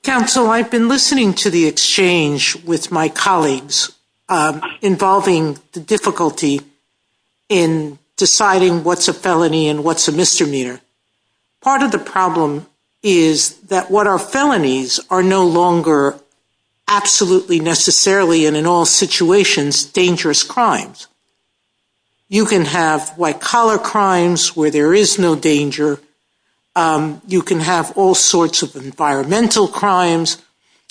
Counsel, I've been listening to the exchange with my colleagues involving the difficulty in deciding what's a felony and what's a misdemeanor. Part of the problem is that what are felonies are no longer absolutely necessarily, and in all situations, dangerous crimes. You can have white collar crimes where there is no danger. You can have all sorts of environmental crimes,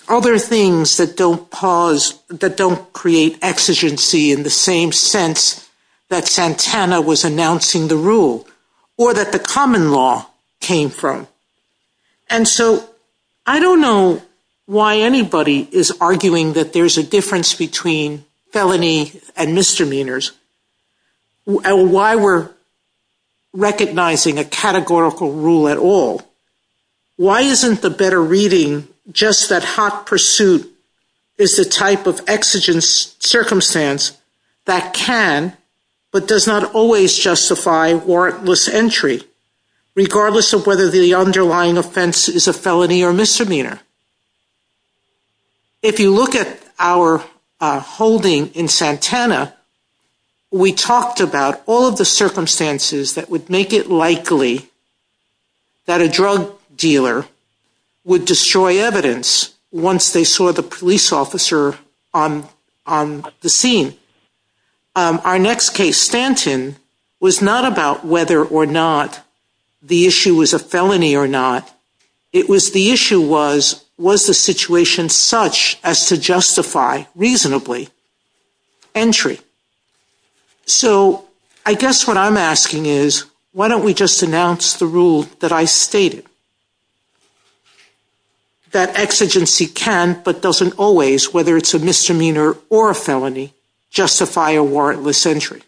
other things that don't create exigency in the same sense that Santana was announcing the rule or that the common law came from. And so I don't know why anybody is arguing that there's a difference between felony and misdemeanors and why we're recognizing a categorical rule at all. Why isn't the better reading just that hot pursuit is the type of exigent circumstance that can but does not always justify warrantless entry, regardless of whether the underlying offense is a felony or misdemeanor? If you look at our holding in Santana, we talked about all of the circumstances that would make it likely that a drug dealer would destroy evidence once they saw the police officer on the scene. Our next case, Stanton, was not about whether or not the issue was a felony or not. It was the issue was, was the situation such as to justify reasonably entry? So I guess what I'm asking is, why don't we just announce the rule that I stated, that exigency can but doesn't always, whether it's a misdemeanor or a felony, justify a warrantless entry?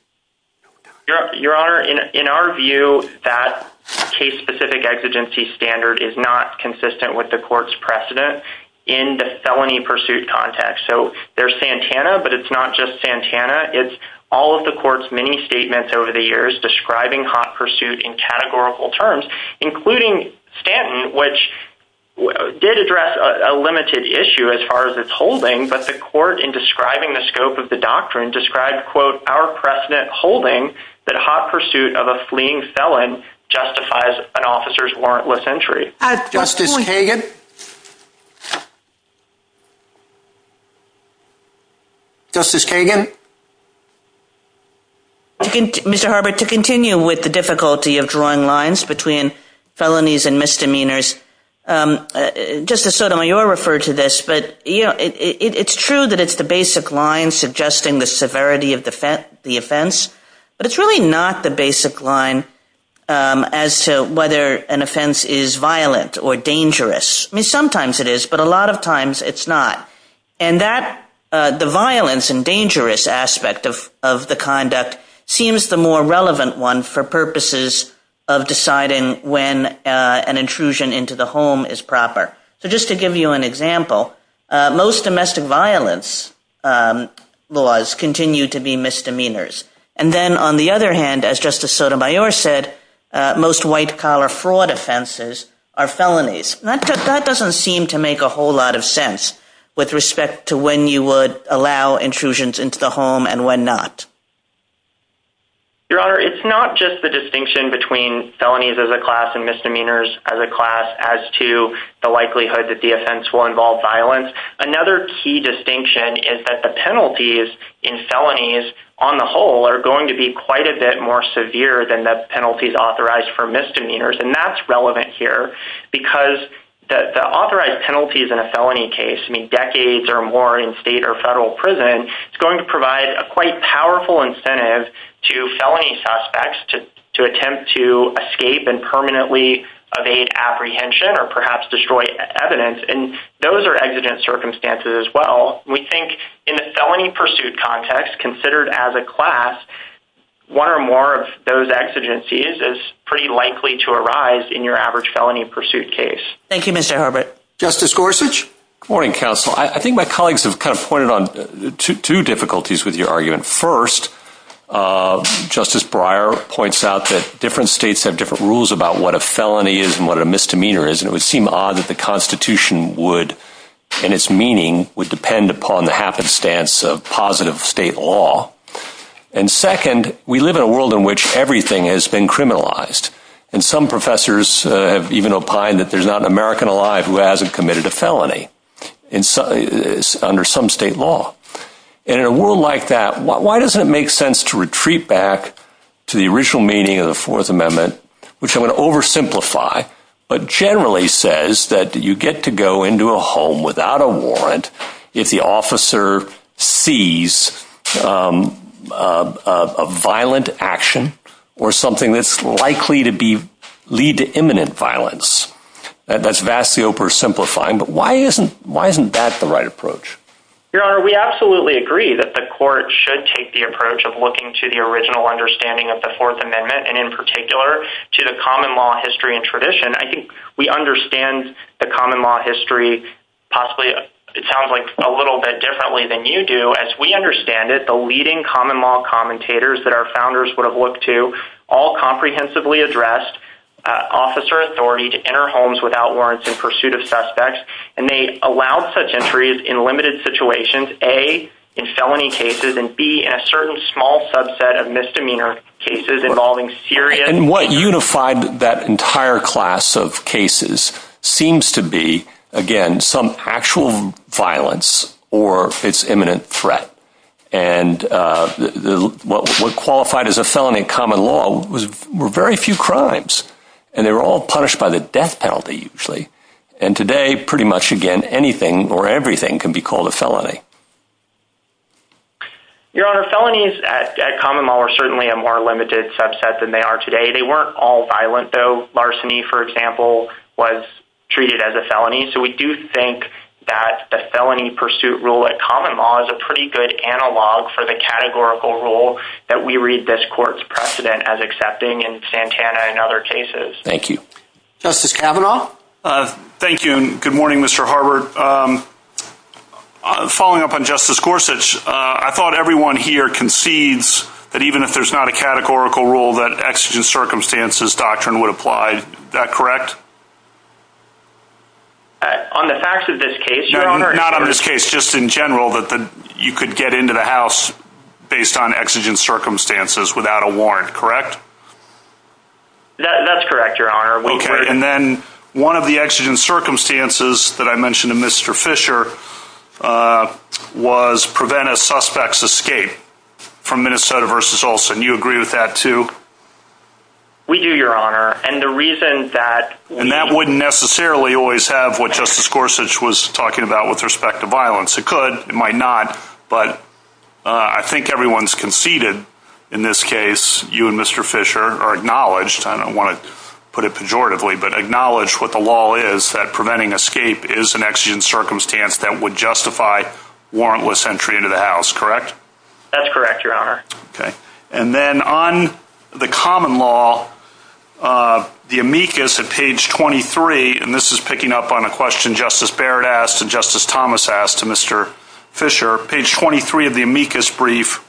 Your Honor, in our view, that case-specific exigency standard is not consistent with the court's precedent in the felony pursuit context. So there's Santana, but it's not just Santana. It's all of the court's many statements over the years describing hot pursuit in categorical terms, including Stanton, which did address a limited issue as far as its holding, but the court, in describing the scope of the doctrine, described, quote, our precedent holding that hot pursuit of a fleeing felon justifies an officer's warrantless entry. Justice Kagan? Justice Kagan? Mr. Harbert, to continue with the difficulty of drawing lines between felonies and misdemeanors, Justice Sotomayor referred to this, but it's true that it's the basic line suggesting the severity of the offense, but it's really not the basic line as to whether an offense is violent or dangerous. I mean, sometimes it is, but a lot of times it's not. And the violence and dangerous aspect of the conduct seems the more relevant one for purposes of deciding when an intrusion into the home is proper. So just to give you an example, most domestic violence laws continue to be misdemeanors. And then, on the other hand, as Justice Sotomayor said, most white-collar fraud offenses are felonies. That doesn't seem to make a whole lot of sense with respect to when you would allow intrusions into the home and when not. Your Honor, it's not just the distinction between felonies as a class and misdemeanors as a class as to the likelihood that the offense will involve violence. Another key distinction is that the penalties in felonies, on the whole, are going to be quite a bit more severe than the penalties authorized for misdemeanors. And that's relevant here because the authorized penalties in a felony case, which can be decades or more in state or federal prison, is going to provide a quite powerful incentive to felony suspects to attempt to escape and permanently evade apprehension or perhaps destroy evidence. And those are exigent circumstances as well. We think in the felony pursuit context, considered as a class, one or more of those exigencies is pretty likely to arise in your average felony pursuit case. Thank you, Mr. Abbott. Justice Gorsuch? Good morning, counsel. I think my colleagues have kind of pointed on two difficulties with your argument. First, Justice Breyer points out that different states have different rules about what a felony is and what a misdemeanor is. And it would seem odd that the Constitution would, in its meaning, would depend upon the happenstance of positive state law. And second, we live in a world in which everything has been criminalized. And some professors have even opined that there's not an American alive who hasn't committed a felony under some state law. And in a world like that, why doesn't it make sense to retreat back to the original meaning of the Fourth Amendment, which I'm going to oversimplify, but generally says that you get to go into a home without a warrant if the officer sees a violent action or something that's likely to lead to imminent violence. And that's vastly oversimplifying, but why isn't that the right approach? Your Honor, we absolutely agree that the court should take the approach of looking to the original understanding of the Fourth Amendment, and in particular, to the common law history and tradition. I think we understand the common law history possibly, it sounds like, a little bit differently than you do. As we understand it, the leading common law commentators that our founders would have looked to all comprehensively addressed officer authority to enter homes without warrants in pursuit of suspects. And they allowed such entries in limited situations, A, in felony cases, and B, in a certain small subset of misdemeanor cases involving serious— And what unified that entire class of cases seems to be, again, some actual violence or its imminent threat. And what was qualified as a felony in common law were very few crimes, and they were all punished by the death penalty, usually. And today, pretty much again, anything or everything can be called a felony. Your Honor, felonies at common law are certainly a more limited subset than they are today. They weren't all violent, though. Larceny, for example, was treated as a felony. So we do think that the felony pursuit rule at common law is a pretty good analog for the categorical rule that we read this court's precedent as accepting in Santana and other cases. Thank you. Justice Kavanaugh? Thank you, and good morning, Mr. Harbert. Following up on Justice Gorsuch, I thought everyone here concedes that even if there's not a categorical rule, that exigent circumstances doctrine would apply. Is that correct? On the facts of this case? No, not on this case, just in general, that you could get into the house based on exigent circumstances without a warrant, correct? That's correct, Your Honor. Okay, and then one of the exigent circumstances that I mentioned to Mr. Fisher was prevent a suspect's escape from Minnesota v. Olson. You agree with that, too? We do, Your Honor, and the reason that... And that wouldn't necessarily always have what Justice Gorsuch was talking about with respect to violence. It could, it might not, but I think everyone's conceded in this case. You and Mr. Fisher are acknowledged. I don't want to put it pejoratively, but acknowledged what the law is, that preventing escape is an exigent circumstance that would justify warrantless entry into the house, correct? That's correct, Your Honor. Okay, and then on the common law, the amicus at page 23, and this is picking up on a question Justice Barrett asked and Justice Thomas asked to Mr. Fisher. Page 23 of the amicus brief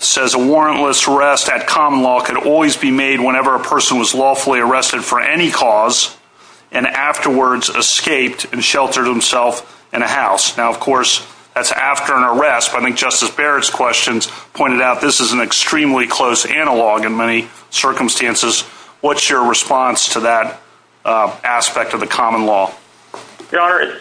says, a warrantless arrest at common law could always be made whenever a person was lawfully arrested for any cause and afterwards escaped and sheltered himself in a house. Now, of course, that's after an arrest, but I think Justice Barrett's questions pointed out this is an extremely close analog in many circumstances. What's your response to that aspect of the common law? Your Honor,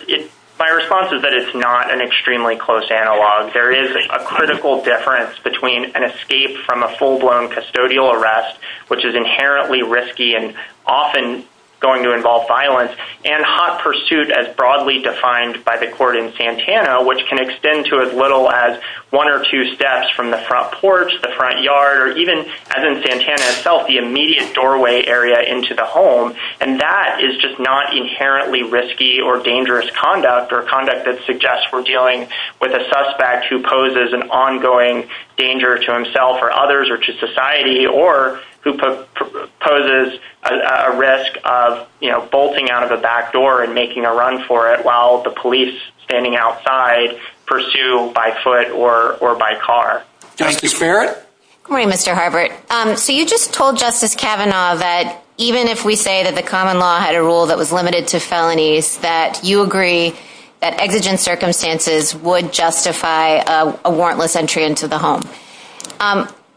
my response is that it's not an extremely close analog. There is a critical difference between an escape from a full-blown custodial arrest, which is inherently risky and often going to involve violence, and hot pursuit as broadly defined by the court in Santana, which can extend to as little as one or two steps from the front porch, the front yard, or even, as in Santana itself, the immediate doorway area into the home. And that is just not inherently risky or dangerous conduct or conduct that suggests we're dealing with a suspect who poses an ongoing danger to himself or others or to society or who poses a risk of, you know, bolting out of the back door and making a run for it while the police standing outside pursue by foot or by car. Justice Barrett? Good morning, Mr. Harbert. So you just told Justice Kavanaugh that even if we say that the common law had a rule that was limited to felonies, that you agree that exigent circumstances would justify a warrantless entry into the home.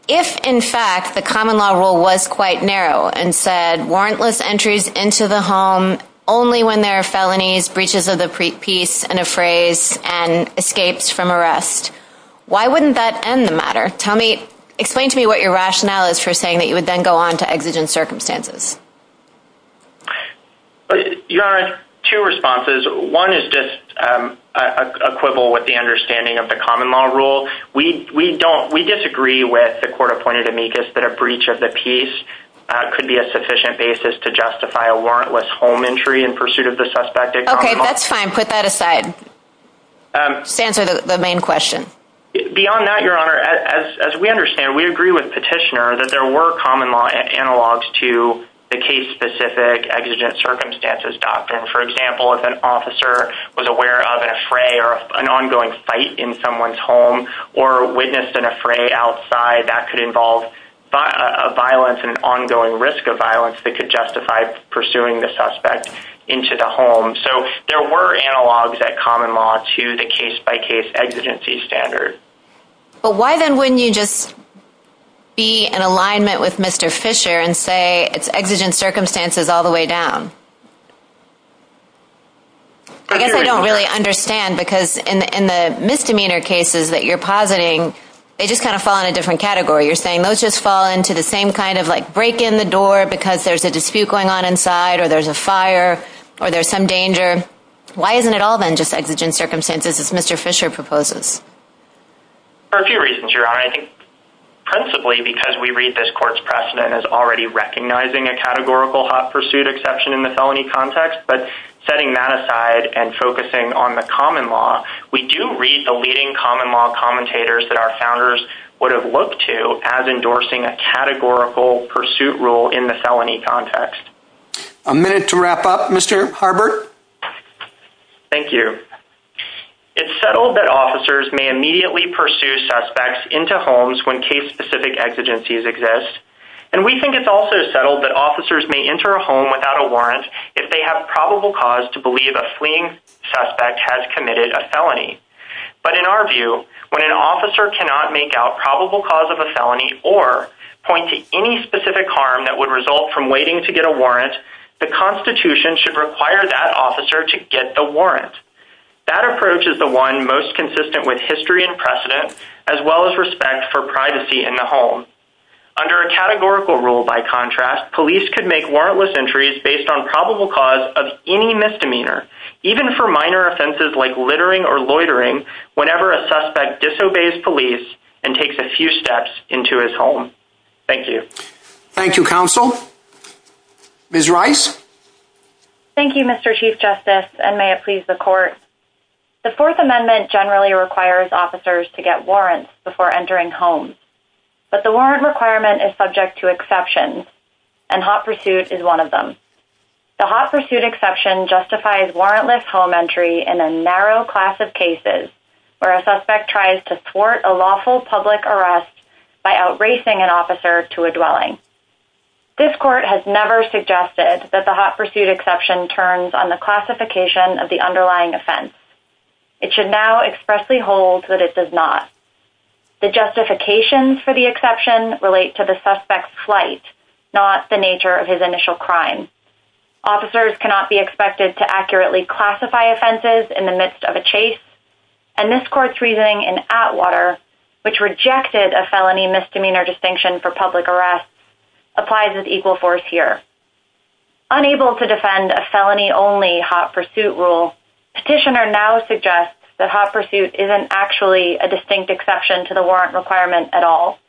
If, in fact, the common law rule was quite narrow and said warrantless entries into the home only when there are felonies, breaches of the peace, and a phrase, and escapes from arrest, why wouldn't that end the matter? Tell me, explain to me what your rationale is for saying that you would then go on to exigent circumstances. Your Honor, two responses. One is just equivalent with the understanding of the common law rule. We disagree with the court-appointed amicus that a breach of the peace could be a sufficient basis to justify a warrantless home entry in pursuit of the suspected common law. Okay, that's fine. Put that aside. To answer the main question. Beyond that, Your Honor, as we understand, we agree with Petitioner that there were common law analogs to the case-specific exigent circumstances doctrine. For example, if an officer was aware of an affray or an ongoing fight in someone's home, or witnessed an affray outside, that could involve violence and ongoing risk of violence that could justify pursuing the suspect into the home. So there were analogs at common law to the case-by-case exigency standard. But why then wouldn't you just be in alignment with Mr. Fisher and say it's exigent circumstances all the way down? I guess I don't really understand, because in the misdemeanor cases that you're positing, they just kind of fall in a different category. You're saying those just fall into the same kind of like break in the door because there's a dispute going on inside or there's a fire or there's some danger. Why isn't it all then just exigent circumstances as Mr. Fisher proposes? For a few reasons, your Honor. I think principally because we read this court's precedent as already recognizing a categorical hot pursuit exception in the felony context, but setting that aside and focusing on the common law. We do read the leading common law commentators that our founders would have looked to as endorsing a categorical pursuit rule in the felony context. A minute to wrap up, Mr. Harbert. Thank you. It's settled that officers may immediately pursue suspects into homes when case-specific exigencies exist. And we think it's also settled that officers may enter a home without a warrant if they have probable cause to believe a fleeing suspect has committed a felony. But in our view, when an officer cannot make out probable cause of a felony or point to any specific harm that would result from waiting to get a warrant, the Constitution should require that officer to get the warrant. That approach is the one most consistent with history and precedent, as well as respect for privacy in the home. Under a categorical rule, by contrast, police could make warrantless entries based on probable cause of any misdemeanor, even for minor offenses like littering or loitering whenever a suspect disobeys police and takes a few steps into his home. Thank you. Thank you, counsel. Ms. Rice? Thank you, Mr. Chief Justice, and thank you for your questions. The Fourth Amendment generally requires officers to get warrants before entering homes, but the warrant requirement is subject to exceptions, and hot pursuit is one of them. The hot pursuit exception justifies warrantless home entry in a narrow class of cases where a suspect tries to thwart a lawful public arrest by outracing an officer to a dwelling. This Court has never suggested that the hot pursuit exception turns on the classification of the underlying offense. It should now expressly hold that it does not. The justifications for the exception relate to the suspect's flight, not the nature of his initial crime. Officers cannot be expected to accurately classify offenses in the midst of a chase, and this Court's reasoning in Atwater, which rejected a felony misdemeanor distinction for public arrest, applies as equal force here. Unable to defend a felony-only hot pursuit rule, Petitioner now suggests that hot pursuit isn't actually a distinct exception to the warrant requirement at all.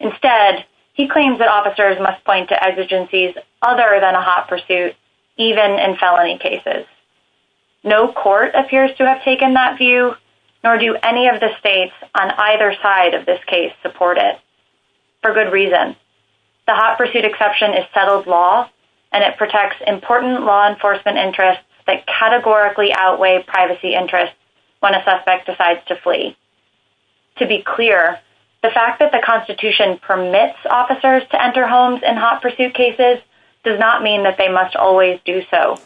Instead, he claims that officers must point to exigencies other than a hot pursuit, even in felony cases. No Court appears to have taken that view, nor do any of the states on either side of this case support it. For good reason. The hot pursuit exception is settled by law, and it protects important law enforcement interests that categorically outweigh privacy interests when a suspect decides to flee. To be clear, the fact that the Constitution permits officers to enter homes in hot pursuit cases does not mean that they must always do so.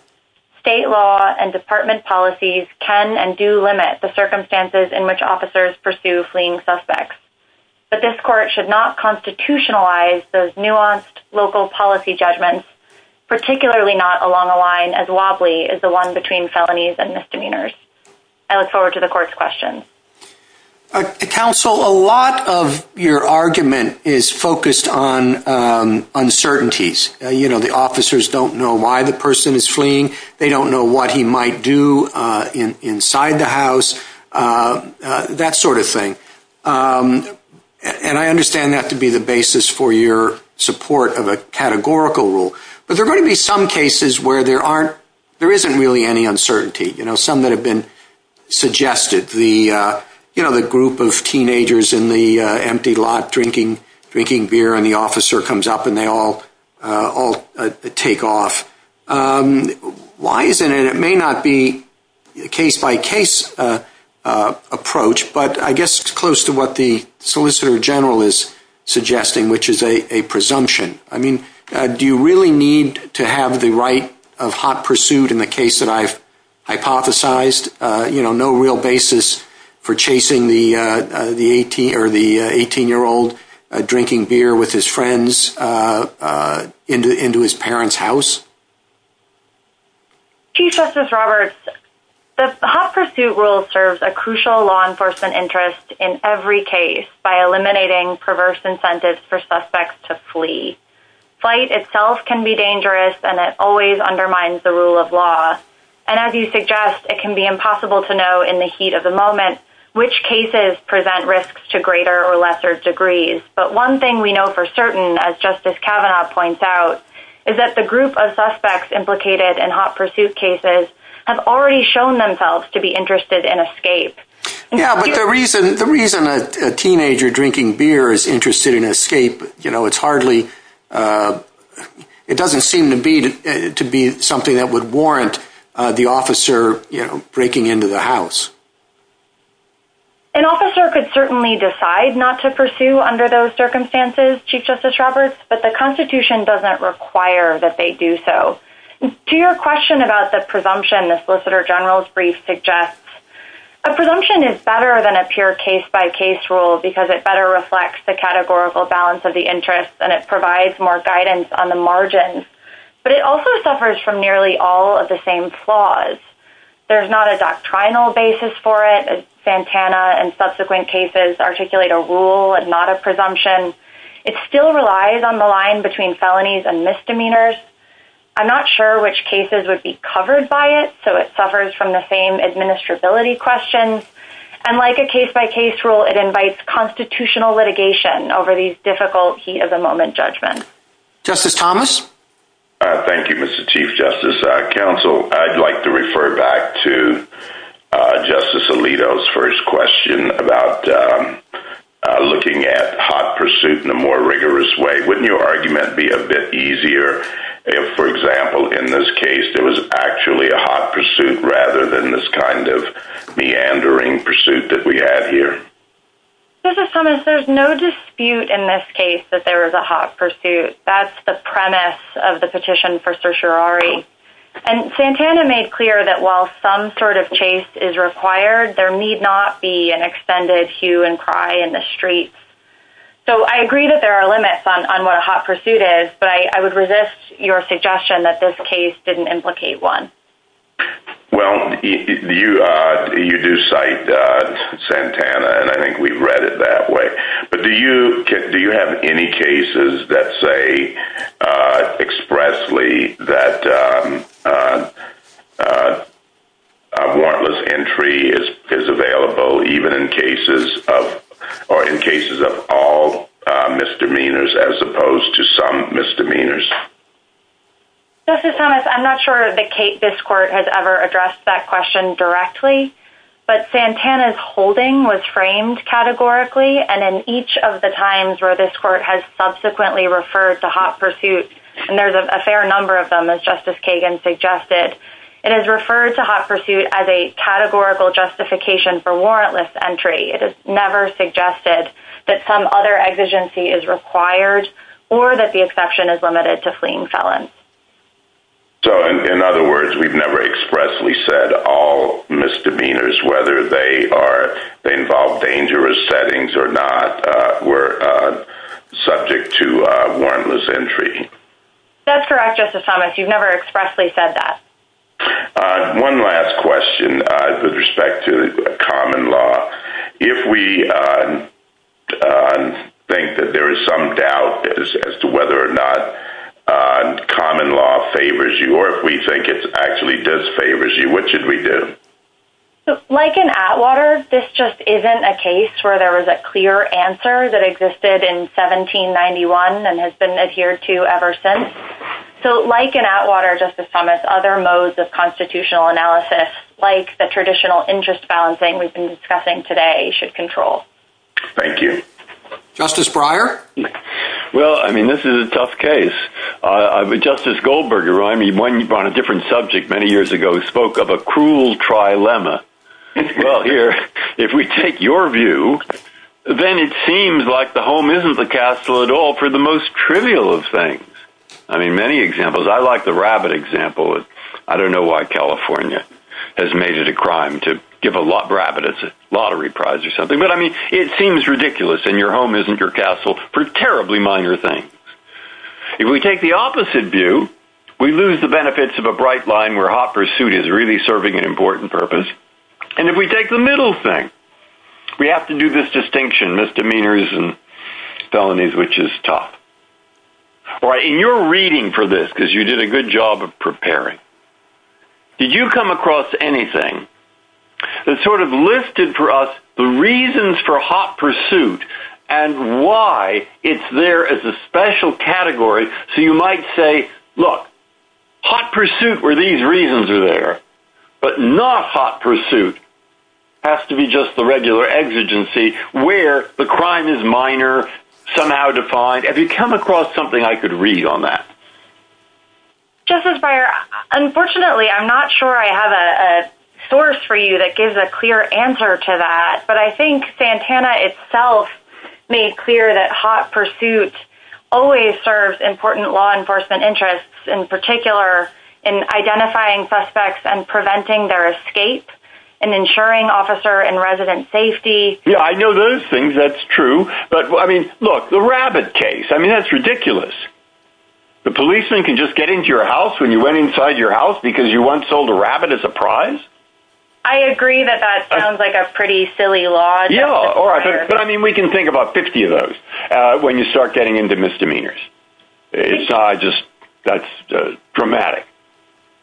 State law and department policies can and do limit the circumstances in which officers pursue fleeing suspects. But this Court should not constitutionalize those nuanced local policy judgments, particularly not along the line as wobbly as the one between felonies and misdemeanors. I look forward to the Court's questions. Counsel, a lot of your argument is focused on uncertainties. You know, the officers don't know why the person is fleeing. They don't know what he might do inside the house, that sort of thing. And I understand that to be the basis for support of a categorical rule. But there may be some cases where there isn't really any uncertainty. You know, some that have been suggested. You know, the group of teenagers in the empty lot drinking beer and the officer comes up and they all take off. Why isn't it? It may not be a case-by-case approach, but I guess it's close to what the Solicitor General is suggesting, a presumption. I mean, do you really need to have the right of hot pursuit in the case that I've hypothesized? You know, no real basis for chasing the 18-year-old drinking beer with his friends into his parents' house? Chief Justice Roberts, the hot pursuit rule serves a crucial law enforcement interest in every case by eliminating perverse incentives to flee. Flight itself can be dangerous and it always undermines the rule of law. And as you suggest, it can be impossible to know in the heat of the moment which cases present risks to greater or lesser degrees. But one thing we know for certain, as Justice Kavanaugh points out, implicated in hot pursuit cases have already shown themselves to be interested in escape. Yeah, but the reason a teenager drinking beer is interested in escape, it's hardly, it doesn't seem to be something that would warrant the officer breaking into the house. An officer could certainly decide not to pursue under those circumstances, Chief Justice Roberts, but the Constitution doesn't require that they do so. To your question about the presumption the Solicitor General's brief suggests, the presumption is better than a pure case-by-case rule because it better reflects the categorical balance of the interests and it provides more guidance on the margins. But it also suffers from nearly all of the same flaws. There's not a doctrinal basis for it. Santana and subsequent cases articulate a rule and not a presumption. It still relies on the line between felonies and misdemeanors. I'm not sure which cases would be covered by it, and like a case-by-case rule, it invites constitutional litigation over these difficult, heat-of-the-moment judgments. Justice Thomas? Thank you, Mr. Chief Justice. Counsel, I'd like to refer back to Justice Alito's first question about looking at hot pursuit in a more rigorous way. Wouldn't your argument be a bit easier if, for example, in this case, there was actually a hot pursuit rather than this kind of confusing pursuit that we have here? Justice Thomas, there's no dispute in this case that there is a hot pursuit. That's the premise of the petition for certiorari. And Santana made clear that while some sort of chase is required, there need not be an extended hue and cry in the streets. So I agree that there are limits on what a hot pursuit is, but I would resist your suggestion that this case didn't implicate one. Well, you do cite Santana, and I think we've read it that way. But do you have any cases that say expressly that a warrantless entry is available, even in cases of all misdemeanors, as opposed to some misdemeanors? Justice Thomas, I'm not sure that this court has ever addressed that question directly, but Santana's holding was framed categorically, and in each of the times where this court has subsequently referred to hot pursuit, and there's a fair number of them, as Justice Kagan suggested, it is referred to hot pursuit as a categorical justification for warrantless entry. It is never suggested that some other exigency is required or that the exception in other words we've never expressly said all misdemeanors, whether they involve dangerous settings or not, were subject to warrantless entry. That's correct, Justice Thomas. You've never expressly said that. One last question with respect to common law. If we think that there is some doubt as to whether or not common law favors you, or if we think it actually does favor you, what should we do? Like in Atwater, this just isn't a case where there is a clear answer that existed in 1791 and has been adhered to ever since. Like in Atwater, Justice Thomas, other modes of constitutional analysis like the traditional interest balancing we've been discussing today should control. Thank you. Justice Breyer? This is a tough case. We brought a different subject many years ago. We spoke of a cruel trilemma. Well, here, if we take your view, then it seems like the home isn't the castle at all for the most trivial of things. I mean, many examples. I like the rabbit example. I don't know why California has made it a crime to give a rabbit a lottery prize or something, but I mean, it seems ridiculous and your home isn't your castle for terribly minor things. It's in the midst of a bright line where hot pursuit is really serving an important purpose. And if we take the middle thing, we have to do this distinction, misdemeanors and felonies, which is tough. And you're reading for this because you did a good job of preparing. Did you come across anything that sort of listed for us the reasons for hot pursuit and why it's there as a special category so you might say, well, hot pursuit where these reasons are there, but not hot pursuit has to be just the regular exigency where the crime is minor, somehow defined. Have you come across something I could read on that? Justice Breyer, unfortunately, I'm not sure I have a source for you that gives a clear answer to that, but I think Santana itself made clear that hot pursuit always serves important in identifying suspects and preventing their escape and ensuring officer and resident safety. Yeah, I know those things. That's true. But I mean, look, the rabbit case, I mean, that's ridiculous. The policeman can just get into your house when you went inside your house because you once sold a rabbit as a prize. I agree that that sounds ridiculous.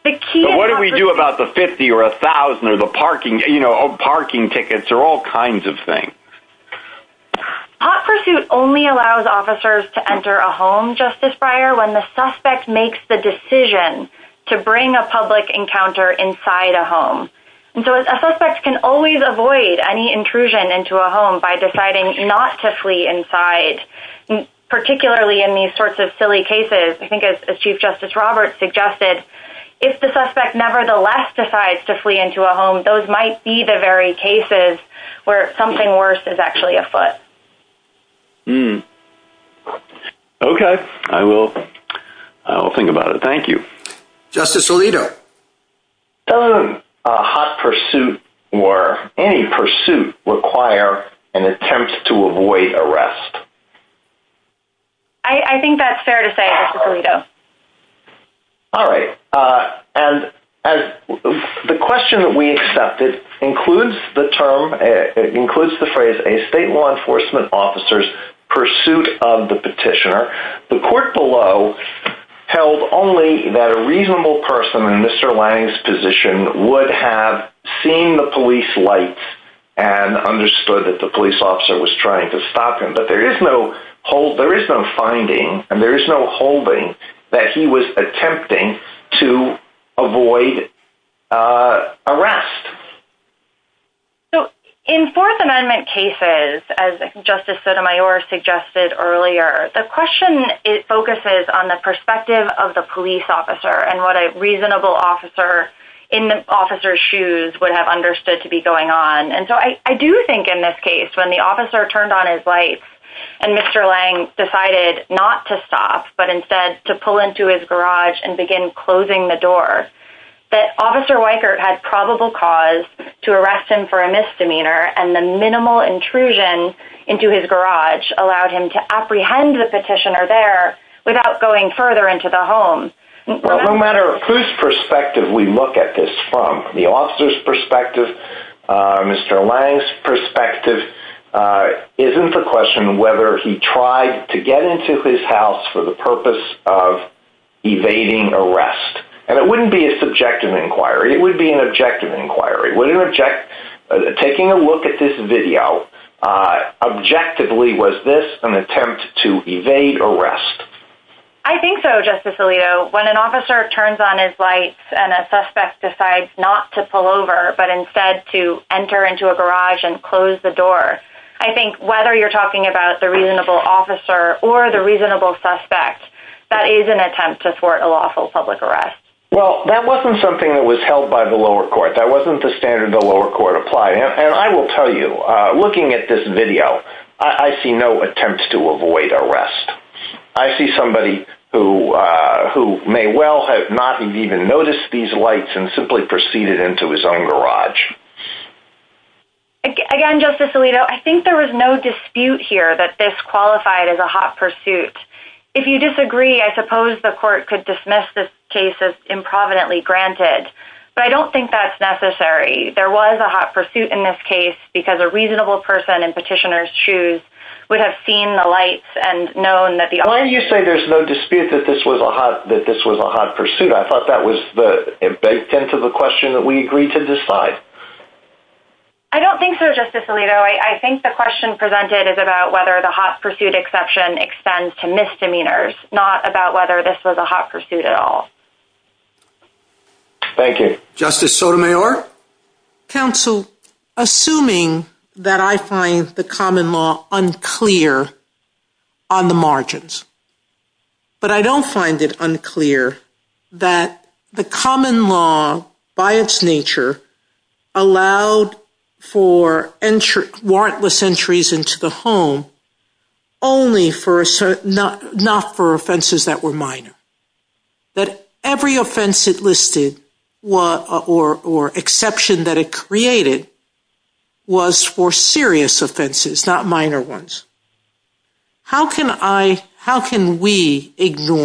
But what do we do about the 50 or 1000 or the parking, you know, parking tickets or all kinds of things? Hot pursuit only allows officers to enter a home, Justice Breyer, when the suspect makes the decision to bring a public encounter inside a home. And so a suspect can always avoid any intrusion into a home by deciding not to flee inside, particularly in these sorts of silly cases. I think as Chief Justice Roberts suggested, if the suspect nevertheless decides to flee into a home, those might be the very cases where something worse is actually afoot. Hmm. OK, I will. I will think about it. Thank you, Justice Alito. A hot pursuit or any pursuit requires an attempt to avoid arrest. I think that's fair to say, Justice Alito. All right. And as the question that we accepted includes the term, it includes the phrase a state law enforcement officer's pursuit of the petitioner. The court below held only that a reasonable person in Mr. Lange's position would have seen the police lights and understood that the police officer was trying to stop him. But there is no whole, there is no finding and there is no holding that he was attempting to avoid arrest. So in Fourth Amendment cases, as Justice Sotomayor suggested earlier, the question focuses on the perspective of the police officer and what a reasonable officer in the officer's shoes would have understood to be going on. And so I do think in this case, when the officer turned on his lights and Mr. Lange decided not to stop, but instead to pull into his garage and begin closing the door, that Officer Weichert had probable cause to arrest him for a misdemeanor and the minimal intrusion into his garage allowed him to apprehend the petitioner there without going further into the home. No matter whose perspective we look at this from, the officer's Mr. Lange's perspective isn't the question whether he tried to get into his house for the purpose of evading arrest. And it wouldn't be a subjective inquiry. It would be an objective inquiry. Taking a look at this video, objectively, was this an attempt to evade arrest? I think so, Justice Alito. When an officer turns on his lights and a suspect decides not to pull over, but instead to enter into a garage and close the door, I think whether you're talking about the reasonable officer or the reasonable suspect, that is an attempt to thwart a lawful public arrest. Well, that wasn't something that was held by the lower court. That wasn't the standard the lower court applied. And I will say that a hot pursuit. I think there was no dispute here that this qualified as a hot pursuit. If you disagree, I suppose the court could dismiss this case as improvidently granted. But I don't think that's necessary. There was a hot pursuit in this case because a hot is a hot pursuit. I don't think so. I think the question presented is about whether the hot pursuit exception extends to misdemeanors, not whether this was a hot pursuit at all. Thank you. Justice Sotomayor? Counsel, assuming that I find the common law unclear on the margins, but I that the offense nature allowed for warrantless entries into the home only for offenses that were minor, that every offense it listed or exception that it created was for serious offenses, not minor ones, how can we adopt the exception without reference to labels like but go back to whether or not the exception was for a minor offense that was not a warrantless entry and that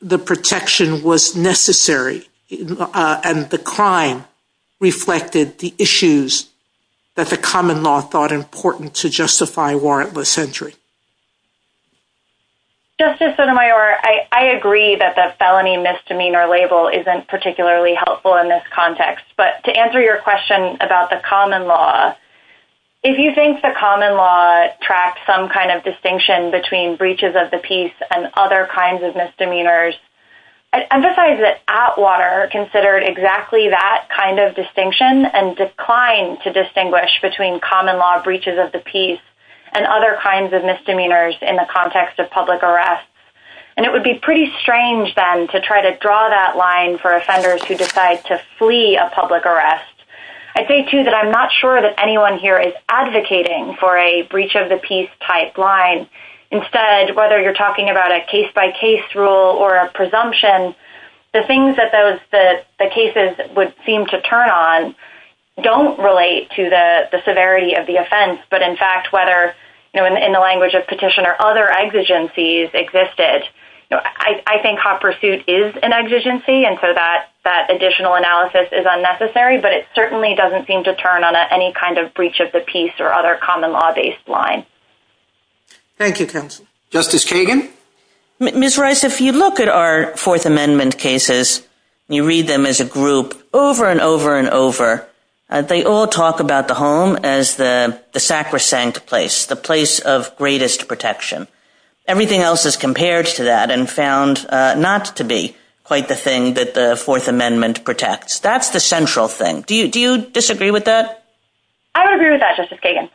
the protection was necessary and the crime reflected the issues that the common law thought important to justify warrantless entry? Justice Sotomayor, I agree that the felony misdemeanor label isn't particularly helpful in this context, but to answer your question about the common law, if you think the common law tracks some kind of distinction of the peace and other kinds of misdemeanors, I'd emphasize that Atwater considered exactly that kind of distinction and declined to distinguish between common law breaches of the peace and other misdemeanors. I'm not sure that anyone here is advocating for a breach of the peace type line. Instead, whether you're talking about a case-by-case rule or a presumption, the things that the cases would seem to turn on don't relate to the severity of the offense, but in fact, whether in the language of petition or other exigencies existed. I think hot pursuit is an exigency, and so that additional analysis is unnecessary, but it certainly doesn't seem to turn on any kind of breach of the peace or other common law-based line. Thank you. Justice Kagan? Ms. Rice, if you look at our Fourth Amendment cases, you read them as a group over and over and over, they all talk about the home as the place of greatest protection. Everything else is compared to that and found not to be quite the thing that the Fourth Amendment protects. That's the central thing. Do you disagree with that? I agree with that, Justice Kagan.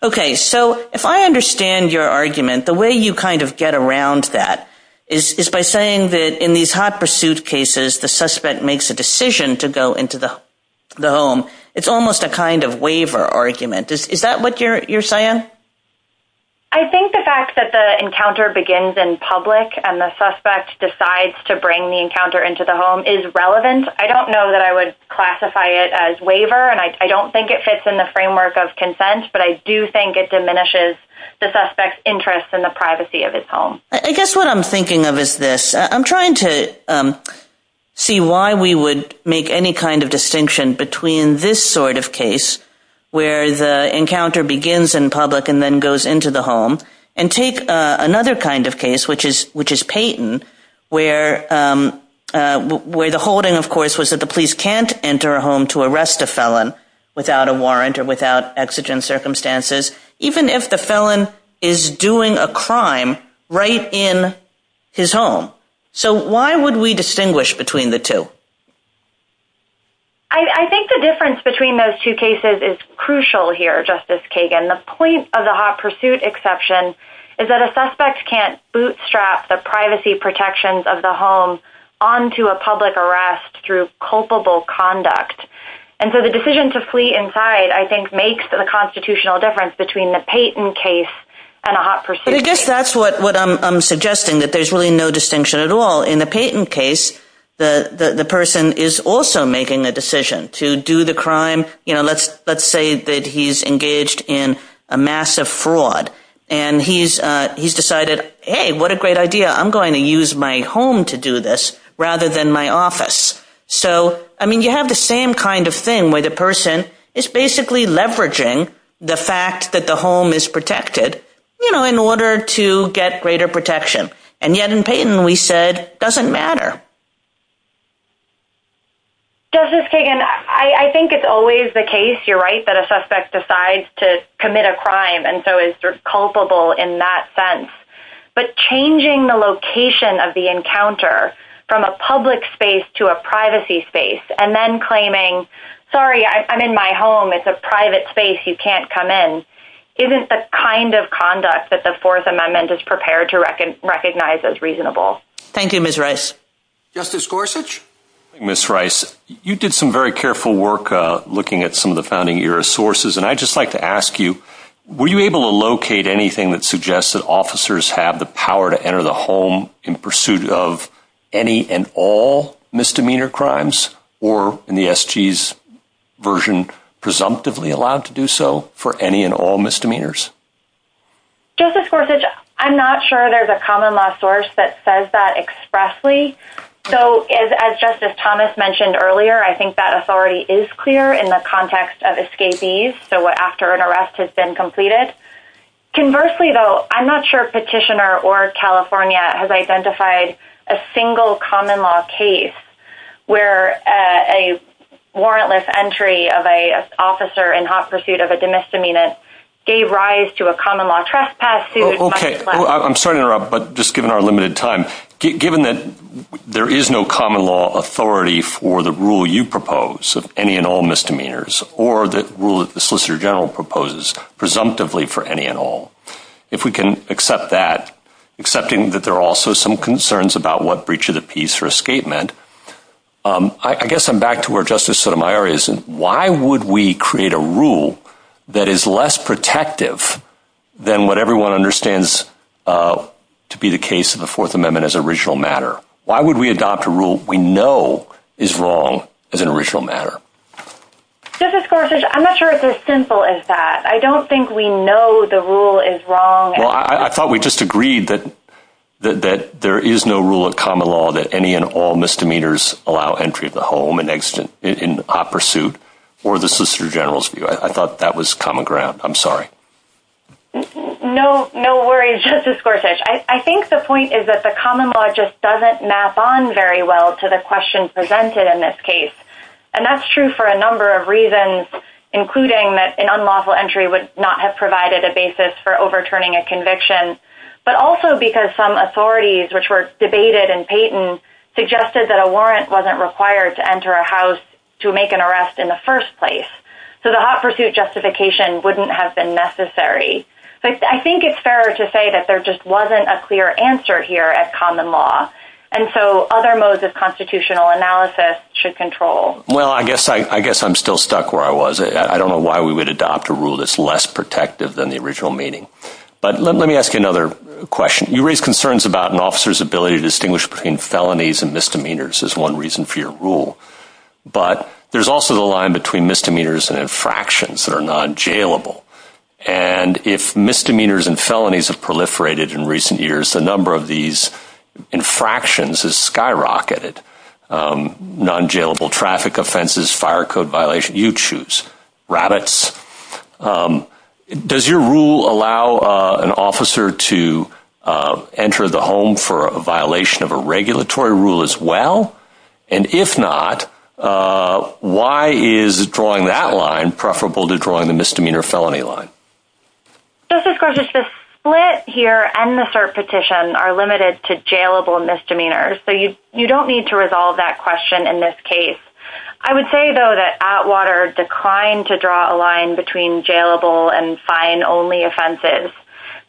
If I understand your argument, the way you get around that is by saying that in these hot pursuit cases, the suspect makes a decision to go into the home, it's almost a kind of waiver argument. Is that what you're saying? I think the fact that the encounter begins in public and the suspect decides to bring the encounter into the home is relevant. I don't know that I would classify it as waiver. I don't think it fits in the framework of consent, but I do think it diminishes the suspect's interest in the privacy of his home. I guess what I'm thinking of is this. I'm trying to see why we would make any distinction between this sort of case where the encounter begins in public and goes into the home and take advantage of of his home. There's another kind of case, which is Payton, where the holding, of course, was that the police can't enter a home to arrest a felon without a warrant or without exigent circumstances, even if the felon is doing a crime right in his home. So why would we distinguish between the two? I think the difference between those two cases is crucial here, Justice Kagan. The point of the hot pursuit exception is that a suspect can't bootstrap the privacy protections of the home onto a public arrest through culpable conduct. So the decision to flee inside the home is a decision that I think makes the constitutional difference between the Payton case and the hot pursuit. In the Payton case, the person is also making a decision to do the crime, let's say that he's engaged in a massive fraud, and he's decided, hey, what a great idea, I'm going to crime. He's actually leveraging the fact that the home is protected in order to get greater protection. And yet in Payton we said it doesn't matter. Justice Kagan, I think it's always the case, you're right, that a suspect decides to commit a crime and so is culpable in that sense. But changing the location of the encounter from a public space to a privacy space and then claiming, sorry, I'm in my home, it's a private space, you can't come in, isn't the kind of conduct that the Fourth Amendment is prepared to recognize as reasonable. Thank you, Ms. Rice. Justice Gorsuch. You did some careful work looking at some of the founding sources. Were you able to locate anything that suggests that officers have the power to enter the home in pursuit of any and all misdemeanor crimes or in the SG's version presumptively allowed to do so for any and all misdemeanors? I'm not sure there's a common law source that says that expressly. As Justice Thomas mentioned earlier, I think that authority is clear in the context of escapees. Conversely, though, I'm not sure petitioner or California has identified a single common law case where a warrantless entry of an officer in hot pursuit of a misdemeanor gave rise to a common law trespass. Given that there is no common law authority for the rule you propose of any and all misdemeanors or the rule that the Solicitor General proposes presumptively for any and all, if we can accept that, accepting that there are also some concerns about what breach of the peace or escape meant, I guess I'm back to where Justice Sotomayor is. Why would we adopt a rule wrong as an original matter rather than what everyone understands to be the case of the Fourth Amendment as an original matter? Why would we adopt a rule we know is wrong as an original matter? Justice Gorsuch, I'm not sure it's as simple as that. I don't think we know the rule is wrong. I thought it was simple. No worries, Justice Gorsuch. I think the point is that the common law just doesn't map on very well to the question presented in this case. That's true for a number of reasons, including that an unlawful entry would not have provided a basis for overturning a conviction, but also because some authorities suggested that a warrant wasn't required to enter a house to make an arrest in the first place. The hot pursuit justification wouldn't have been necessary. I think it's fair to say there wasn't a clear answer here at common law. Other constitutional analysis should control. I guess I'm still stuck where I was. I don't know why we would adopt a rule that's less protective than the original meaning. You raise concerns about an officer's ability to distinguish between felonies and misdemeanors. There's also the line between misdemeanors and infractions that are non-jailable. If misdemeanors have proliferated in recent years, the number of these infractions has skyrocketed. Non-jailable traffic offenses, fire code violations, you choose. Rabbits. Does your rule allow an officer to enter the home for a violation of a regulatory rule as well? If not, why is drawing that line preferable to the misdemeanor line? The split here and the cert petition are limited to jailable misdemeanors. You don't need to resolve that question in this case. I would say that Atwater declined to draw a line between jailable and fine only offenses.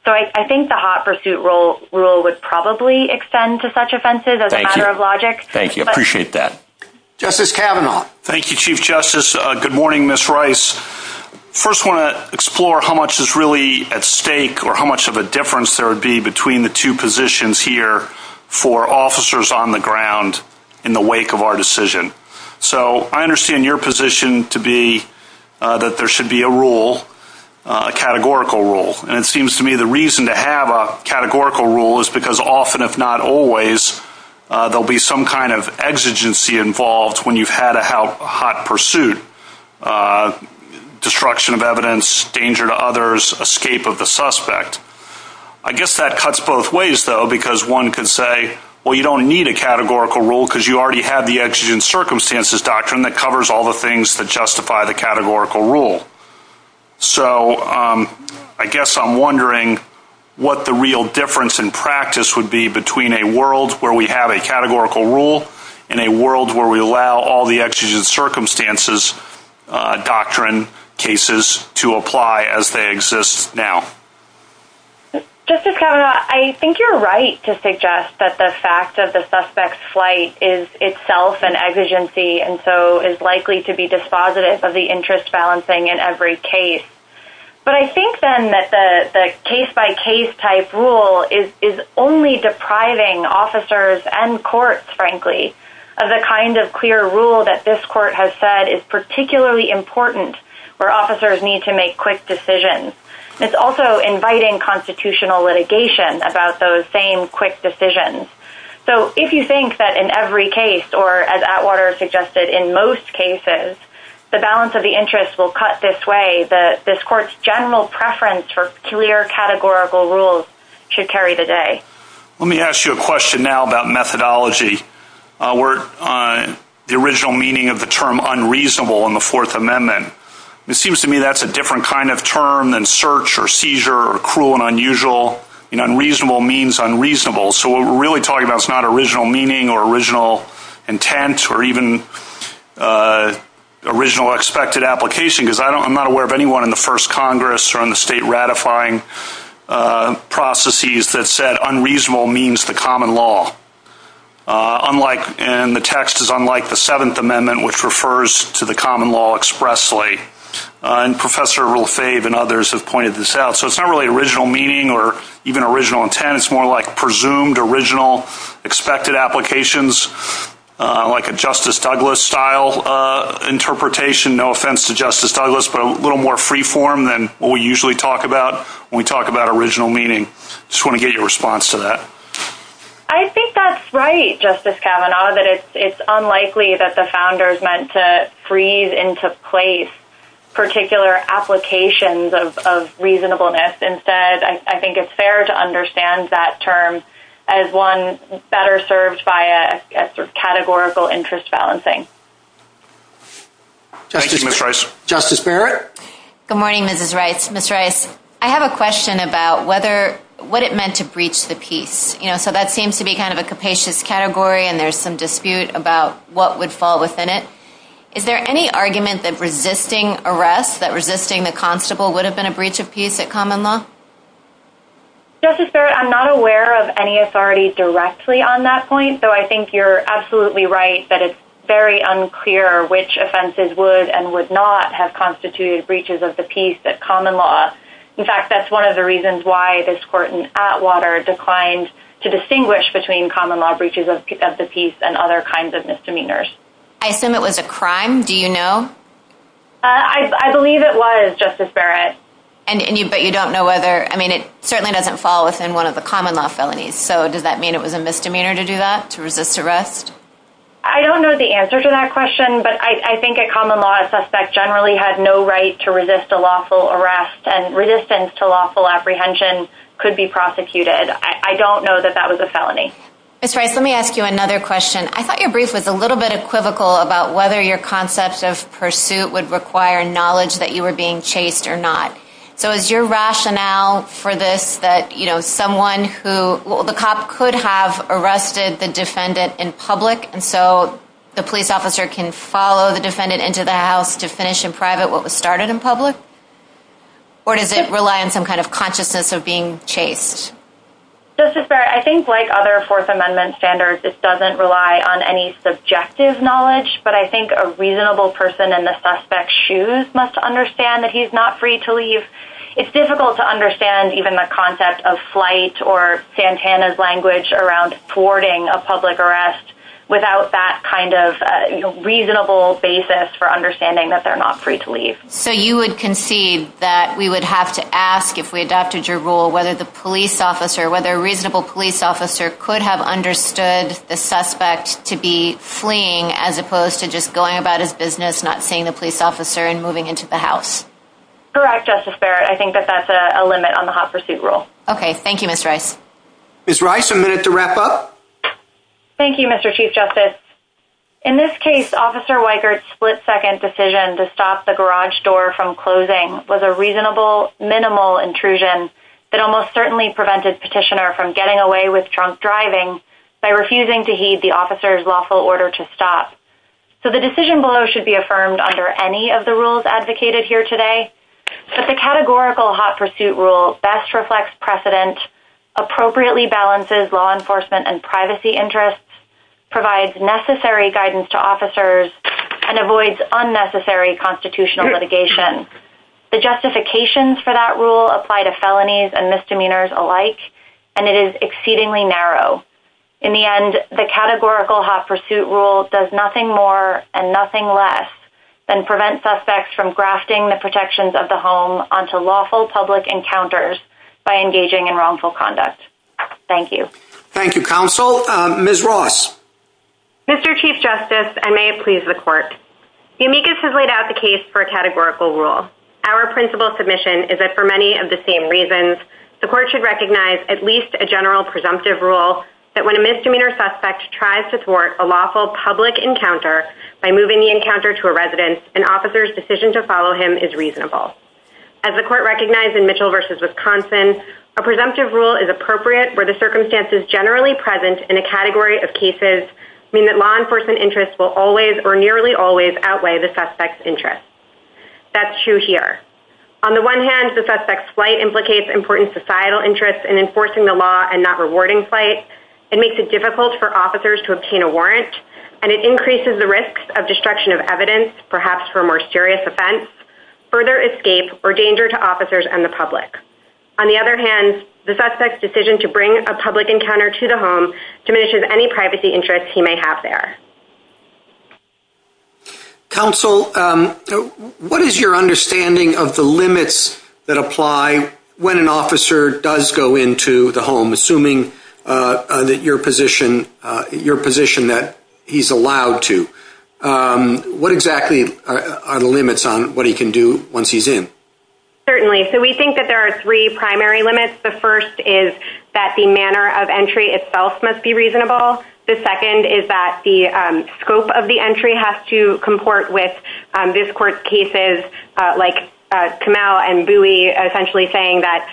I think the hot pursuit rule would probably extend to such offenses as a matter of logic. Thank you. Appreciate that. Justice Kavanaugh. Thank you, Chief Justice. Good morning, Ms. Rice. I want to explore how much of a difference there would be between the two positions for officers on the ground in the wake of our decision. I understand your position to be that there should be a categorical rule. It seems to me the reason to have a categorical rule is because there will be some kind of exigency involved when you have a hot pursuit. Destruction of evidence, danger to others, escape of the suspect. I guess that cuts both ways because one could say you don't need a categorical rule because you already have the exigency that covers all the things that justify the categorical rule. I guess I'm wondering what the real difference in practice would be between a world where we have a categorical rule and a world where we allow all the exigency and the circumstances doctrine cases to apply as they exist now. Justice Kavanaugh, I think you're right to suggest that the fact of the suspect's flight is itself an exigency and so is likely to be dispositive of the interest balancing in every case. But I think, then, that the case-by-case type rule is only depriving officers and courts, frankly, of the kind of clear rule that this court has said is particularly important where officers need to make quick decisions. It's also inviting constitutional litigation about those same quick decisions. So if you think that in every case or as Atwater suggested, in most cases, the balance of the interest will cut this way, this court's general preference for clear categorical rules should carry the day. Let me ask you a question now about methodology. The original meaning of the term unreasonable in the Fourth Amendment. It seems to me that's a different term. Unreasonable means unreasonable. What we're talking about is not original meaning or original intent or even original expected application. I'm not aware of original meaning. The text is unlike the Seventh Amendment which refers to the common law expressly. It's not really original meaning or even original intent. It's more like presumed original expected applications like a Douglas style interpretation. No offense to Justice Douglas but a little more free form than what we usually talk about when we talk about original meaning. I just want to get your response to that. I think that's right Justice Kavanaugh. It's unlikely that the founders meant to freeze the text. I think it's fair to understand that term as one better served by a categorical interest balancing. Justice Barrett. Good morning, Mrs. Rice. I have a question about what it meant to breach the piece. That seems to be a capacious category. There's some dispute about what would fall within it. Is there any argument that resisting the constable would have been a breach of piece? I'm not aware of any authority directly on that point. I think you're absolutely right that it's unclear which offenses would and would fall within the common law felony. I assume it was a crime. Do you know? I believe it was, Justice Barrett. It certainly doesn't fall within one of the common law felonies. Does that mean it was a misdemeanor to do that? I don't know the answer to that question, but I think a common law suspect generally had no right to resist a lawful arrest. I don't know that that was a felony. I thought your brief was a little bit equivocal about whether your pursuit would require knowledge that you were being chased or not. Is your rationale for this that the cop could have arrested the defendant in public so the police officer can follow the defendant into the house to finish in private what was started in public? Or does it rely on consciousness of being chased? Justice Barrett, I think like other Fourth Amendment standards, it doesn't rely on any subjective knowledge, but I think a reasonable person in the suspect's shoes must understand that he's not free to leave. It's difficult to understand even the concept of flight or Santana's language around thwarting a public arrest without that kind of reasonable basis for understanding that they're not free to leave. So you would concede that we would have to ask if we adopted your rule whether a reasonable police officer could have understood the suspect to be fleeing as opposed to just going about his business not seeing the police officer and moving into the house? Correct, Justice Barrett. I think that that's a limit on the hot pursuit rule. Okay, thank you, Ms. Rice. Ms. Rice, a minute to wrap up. Thank you, Mr. Chief Justice. In this case, Officer Weikert's split-second decision to stop the garage door from closing was a reasonable minimal intrusion that almost certainly prevented this petitioner from getting away with drunk driving by refusing to heed the officer's lawful order to stop. So the decision below should be affirmed under any of the rules advocated here today, but the categorical hot pursuit rule best reflects precedent, appropriately balances law enforcement and privacy interests, provides necessary guidance to officers, and avoids unnecessary constitutional litigation. The justifications for that rule apply to felonies and misdemeanors alike, and it is exceedingly narrow. In the end, the categorical hot pursuit rule does nothing more and nothing less than prevent suspects from grafting the protections of the law. Mr. Chief Justice, I may please the court. The amicus has laid out the case for a categorical rule. Our principle submission is that for many of the same reasons, the court should recognize at least a general presumptive rule that when a misdemeanor suspect tries to thwart a lawful public encounter, an officer's decision to follow him is reasonable. A presumptive rule is appropriate where the circumstances generally present in a category of cases mean that law enforcement interests will always or nearly always outweigh the suspect's decision to bring a public encounter to the home diminishes any privacy interests he may have Counsel, understanding of the limits that apply to the presumptive rule? I think that the presumptive rule is that the primary limits apply when an officer does go into the home, assuming that your position that he's allowed to. What exactly are the limits on what he can do once he's in? We think there are three primary limits. The first is that the manner of entry itself must be reasonable. The second is that the scope of the entry has to comport with this court's cases essentially saying that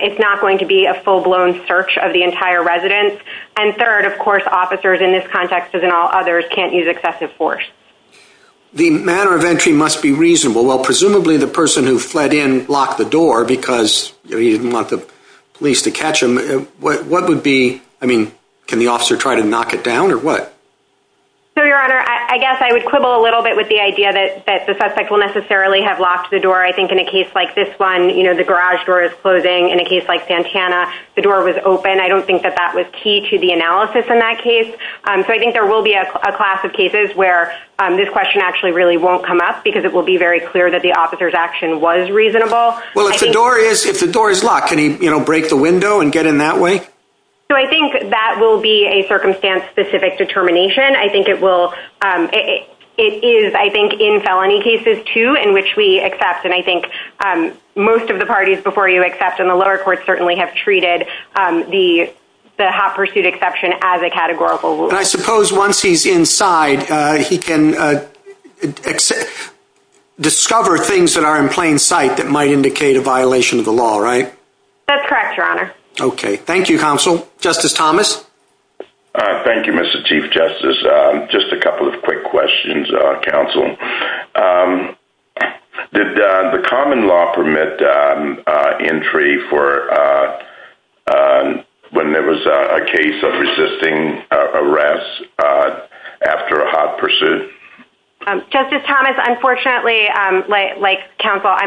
it's not going to be a full-blown search of the entire residence. And third, of course, officers in this context can't use excessive force. The manner of entry must be reasonable. Presumably the person who fled in locked the door because he didn't want the police to catch him. Can the officer try to knock it down or what? I would quibble a little bit with the idea that the suspect will necessarily have locked the door. In a case like this, the garage door is closing. In Santana, the door was open. I don't think that was key to the analysis. There will be a class of cases where this question won't come up. It will be clear that the officer's action was reasonable. I think that will be a circumstance specific to the think it will be a case of determination. I think it is in felony cases too in which we accept. Most of the parties before you accept in the lower court have treated the hot pursuit exception as a categorical rule. I suppose once he's inside, he can discover things that are in plain sight that might indicate a violation of the law. Thank you counsel. Justice Thomas? Thank you Mr. Chief Justice. Just a couple of quick questions. Did the common law permit entry for when there was a case of resisting arrest after a hot pursuit? Justice Thomas, I'm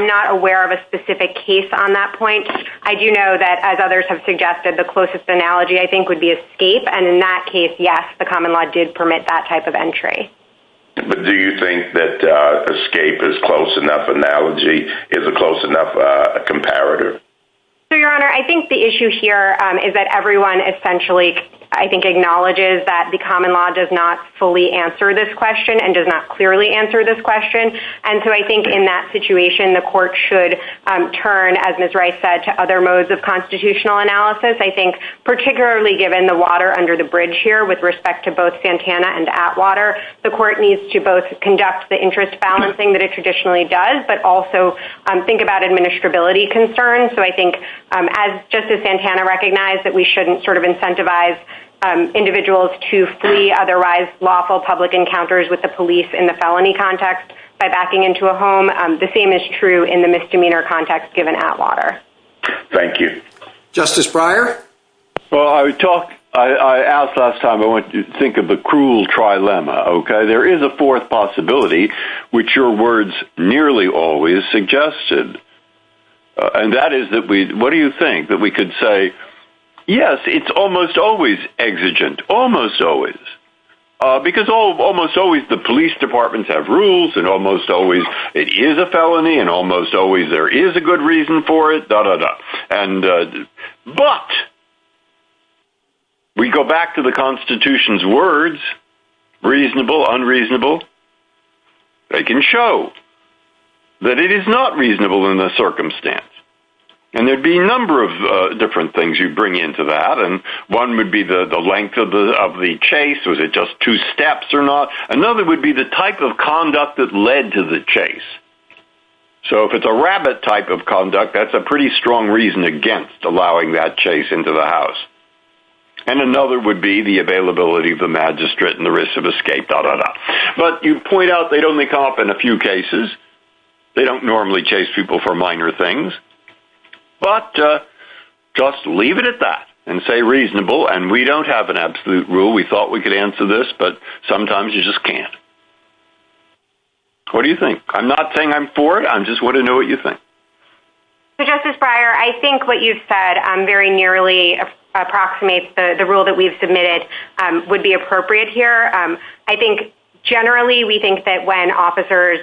not aware of a specific case on that point. I know the closest analogy would be escape. In that case, yes, the common law did permit that type of entry. Do you think escape is a close enough comparator? Your Honor, I think the issue here is that everyone acknowledges that the common law does not fully answer this question and does not clearly answer this question. In that situation, the court should turn to other modes of constitutional analysis, particularly given the water under the bridge here. The court needs to conduct the interest balancing that it traditionally does, but also think about the that there may arise lawful encounters in the felony context. The same is true in the misdemeanor context. Thank you. Justice Breyer? I asked last time, I want you to think of the cruel trilemma. There is a fourth possibility which your words nearly always suggested. And that is, what do you think? That we could say, yes, it's almost always exigent. Almost always. Because almost always the police departments have rules and almost always it is a felony and almost always there is a good reason for it. But we go back to the Constitution's words, reasonable, unreasonable, they can show that it is not reasonable in the circumstance. And there would be a number of different things you bring into that. One would be the length of the chase, was it just two steps or not. Another would be the type of conduct that led to the chase. So if it's a rabbit type of conduct, that's a pretty strong reason against allowing that chase into the house. And another would be the availability of the magistrate and the risk of escape. But you point out they only come up in a few cases. They don't normally chase people for minor things. But just leave it at that and say reasonable and we don't have an absolute rule. We thought we could answer this but sometimes you just can't. What do you think? I'm not saying I'm for it. I just want to know what you think. I think what you said very nearly approximates the rule that we submitted would be appropriate here. I think generally we think that when officers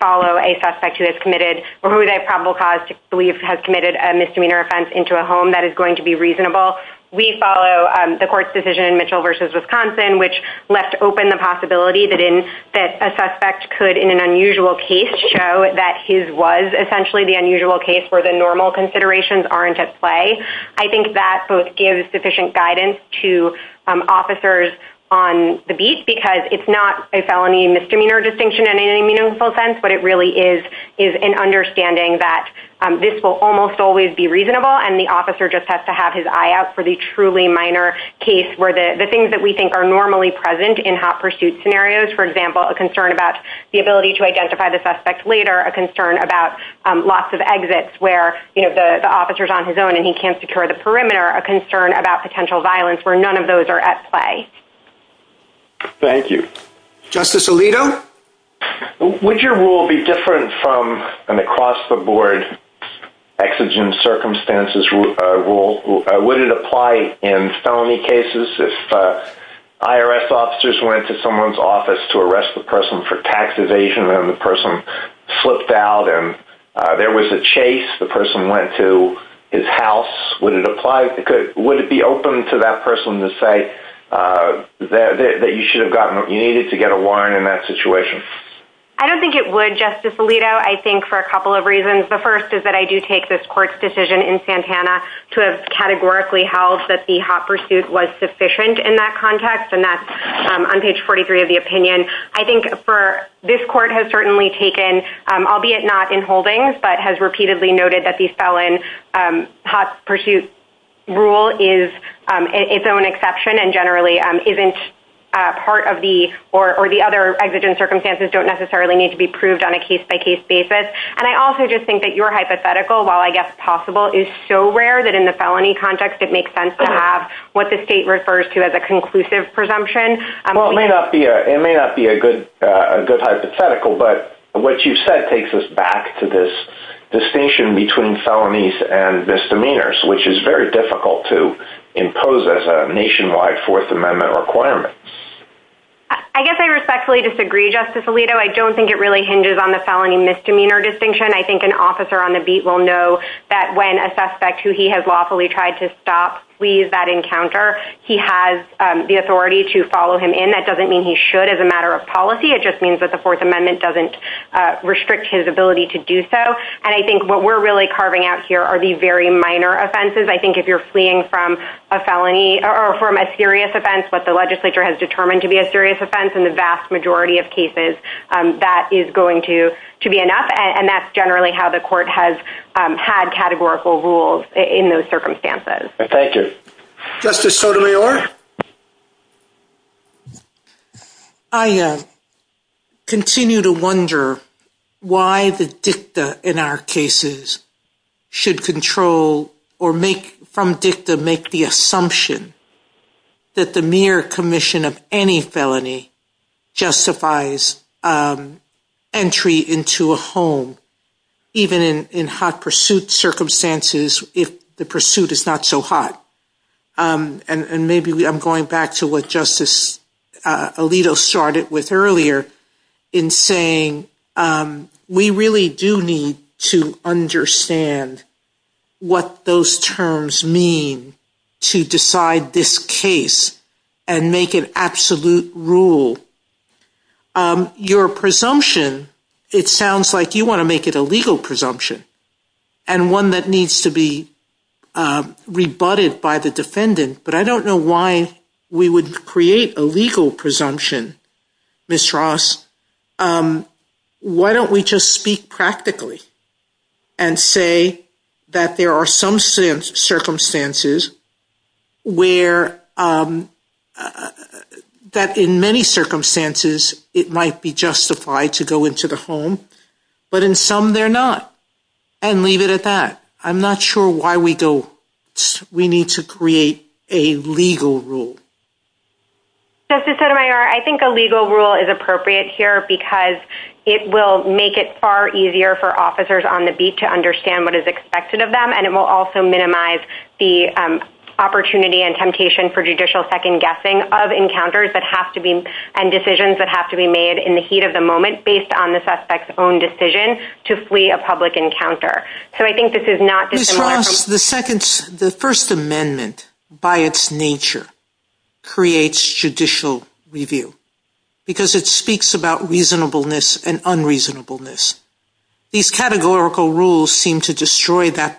follow a suspect who they probably believe has committed a misdemeanor offense into a home that is going to be reasonable, we follow the court's decision which left open the possibility that a suspect could in an unusual case show that his was essentially the unusual case where the normal considerations aren't at play. I think that gives sufficient understanding that this will almost always be reasonable and the officer just has to have his eye out for the truly minor case where the things that we think are normally present in hot pursuit scenarios, for example, a concern about the ability to identify the suspect later, a concern about lots of exits where the officer is on the run, a concern that the suspect can't identify the suspect later. Would your rule be different from an across the board exigent circumstances rule? Would it apply in felony cases if IRS officers went to someone's office to arrest the person for tax evasion and the person slipped out and there was a chase, the person went to his house, would it be open to that person to say that you should have gotten what you needed to get a warrant in that situation? I don't think it would. The first is that I do take this court's decision in Santana to categorically hold that the hot pursuit was sufficient in that context. I think this court has certainly taken, albeit not in holdings, but has repeatedly noted that the felon hot pursuit rule is its own exception and generally isn't part of the or the other exigent circumstances don't necessarily need to be proved on a case-by-case basis. It may not be a good hypothetical, but what you said takes us back to this distinction between felonies and misdemeanors, which is very difficult to impose as a nationwide Fourth Amendment requirement. I don't think it hinges on the authority of the felon. He has the authority to follow him in. That doesn't mean he should as a matter of policy, it just means that the Fourth Amendment doesn't restrict his ability to do so. If you're fleeing from a felony or a serious offense, what the Fifth that he is free to do so under any circumstances. Justice Sotomayor? I continue to wonder why the dicta in our cases should control or make from dicta make the assumption that the mere commission of any felony justifies entry into a home, even in hot pursuit circumstances if the pursuit is not so hot. Maybe I'm going back to what Justice Alito started with earlier in saying, we really do need to understand what those terms mean to decide this case and make an absolute rule. Your presumption, it sounds like you want to make it a legal presumption and one that needs to be rebutted by the defendant, but I don't know why we would create a legal presumption, Ms. Ross. Why don't we just speak practically and say that there are some circumstances where that in many circumstances it might be justified to go into the home, but in some they're not and leave it at that. I'm not sure why we need to create a legal rule. Justice Sotomayor, I think a legal rule is appropriate here because it will make it easier for the defendant to It will make it easier for the defendant to flee a public encounter. Ms. Ross, the first amendment by its nature creates judicial review because it speaks about reasonableness and unreasonableness. These categorical rules seem to destroy that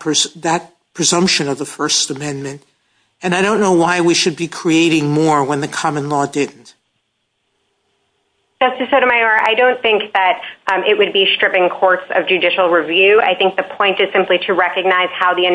presumption of the first amendment. I don't know why we should be creating more when the common law didn't. Justice Sotomayor, I don't think it would be stripping courts of judicial review. I think the point is to recognize how the does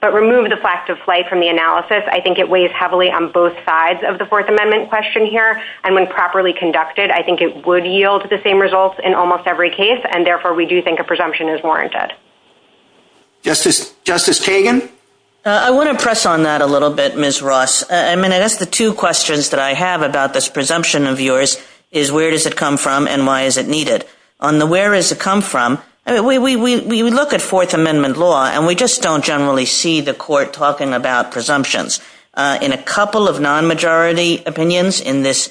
not remove the fact of flight. I think it weighs heavily on both sides of the fourth amendment question. I think it would yield the same results in almost every case and therefore we think a presumption is warranted. I want to press on about presumptions. We look at fourth amendment law and we don't see the court talking about presumptions. In a couple of non-majority opinions, there is no tradition in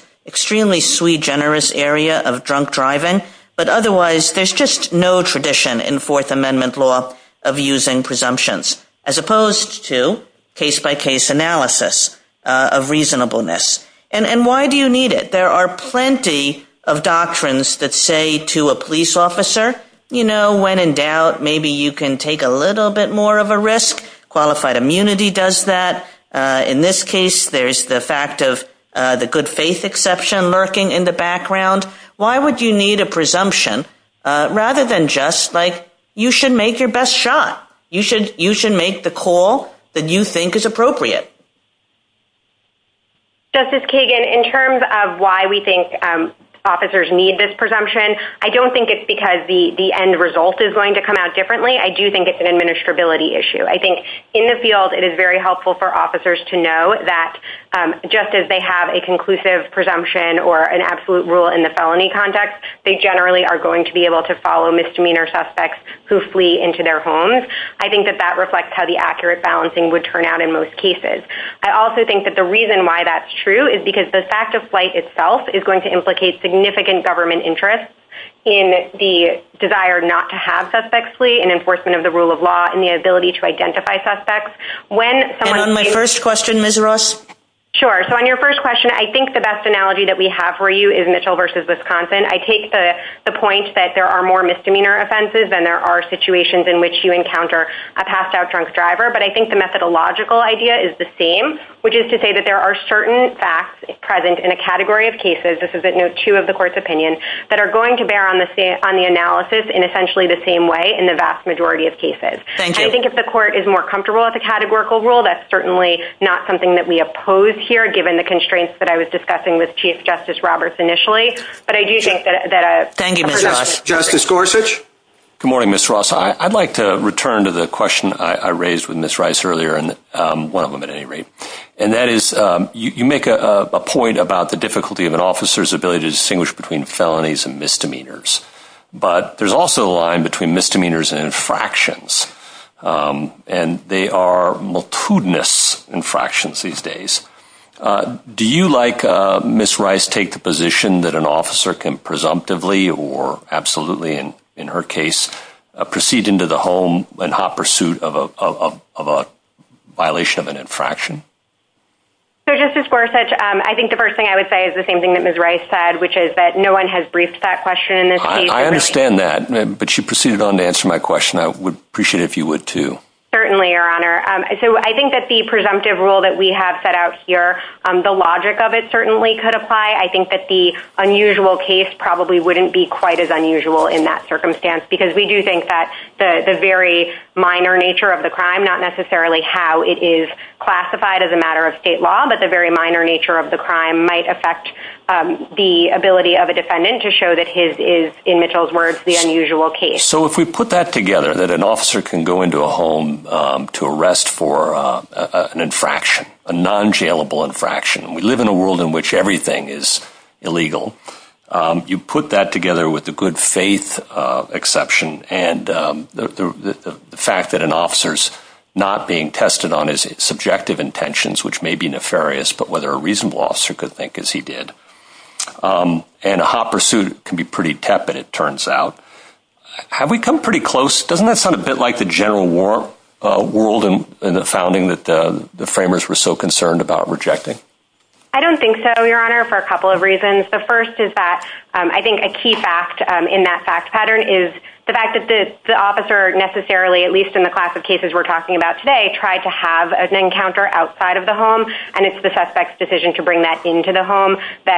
fourth amendment law of using presumptions as opposed to case-by-case analysis of reasonableness. Why do you need it? There are plenty of doctrines that say to a police officer when in doubt maybe you can take a little bit more of a risk. Qualified immunity does that. In this case, there is the good faith exception lurking in the background. Why would you need a presumption rather than just you should make your best effort to do what you need to do? Justice Kagan, in terms of why we think officers need this presumption, I don't think it's because the end result is going to come out differently. In the field, it is helpful for officers to know that just as they have a presumption, their best effort to do what they need to do. I think the reason why that's true is because the fact of flight itself is going to implicate significant government interests in the desire not to have suspects and the ability to do the same. There are certain facts present in a category of cases that are going to bear on the analysis in the same way in the vast majority of cases. If the court is more comfortable with the categorical rule, that's not something we oppose here. I don't that's the case given the constraints I was discussing with Chief Justice Roberts. I would like to return to the question I raised earlier. You make a point about the difficulty of an officer's ability to distinguish between felonies and misdemeanors. There's a line between misdemeanors and infractions. They are multiple infractions these days. Do you like Ms. Rice to take the position that an officer can proceed into the home in hot pursuit of a violation of an infraction? I think the first thing I would say is that the presumptive rule that we have set out here, the logic of it certainly could apply. The unusual case probably wouldn't be quite as unusual in that circumstance. We think the very minor nature of the crime, not necessarily how it is classified as a matter of state law, but the very minor nature of the crime might affect the ability of a defendant to show the unusual case. If we put that together, an officer can go into a home to arrest for an infraction, a non- jailable infraction. We live in a world where everything is illegal. You put that together with the good faith exception and the fact that an not being tested on his subjective intentions, and a hot pursuit can be pretty tepid, it turns out. Doesn't that sound like the general world in the founding of United States? Is that something the framers were so concerned about rejecting? I don't think so for a couple of reasons. A key fact is the fact that the officer necessarily tried to have an encounter outside of the home. It's the suspect's decision to of the home. I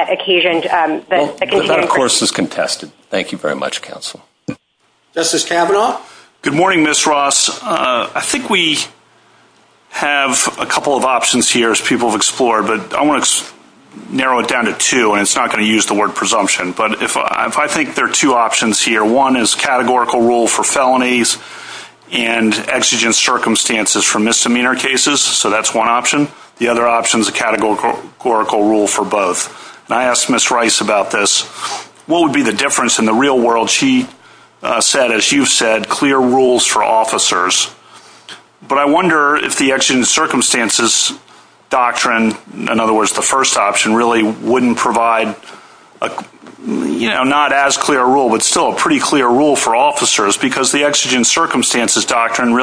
have a couple of options here as people have explored, but I want to narrow it down to two. I think there are two options here. One is categorical rule for felonies and exigent circumstances for misdemeanor cases. That's one option. The other option is categorical rule for both. I asked Ms. Rice about this. What would be the difference in the real world? She said clear rules for officers. I wonder if the exigent circumstances doctrine, the first option, wouldn't provide not as clear a rule, but still a pretty clear rule for officers. The exigent circumstances doctrine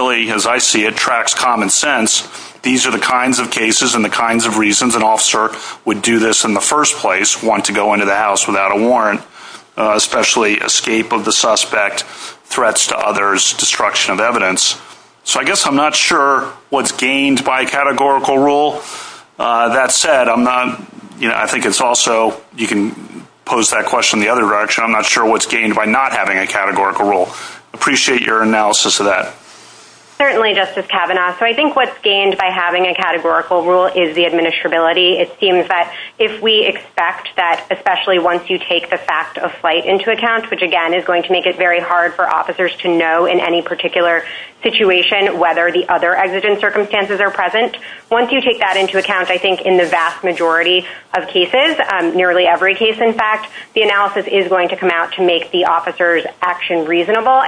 tracks common sense. These are the kinds of reasons an officer would do this in the first place, especially escape of the suspect, threats to others, destruction of evidence. I'm not sure what's gained by not having a categorical rule. Appreciate your analysis of that. I think what's gained by having a categorical rule is the administrability. If we expect that, especially once you take the fact of flight into account, which is going to make it hard for officers to know in any particular situation whether the other exigent circumstances are present, once you take that into account in the vast majority of cases, the analysis will come out to make the officer's action reasonable.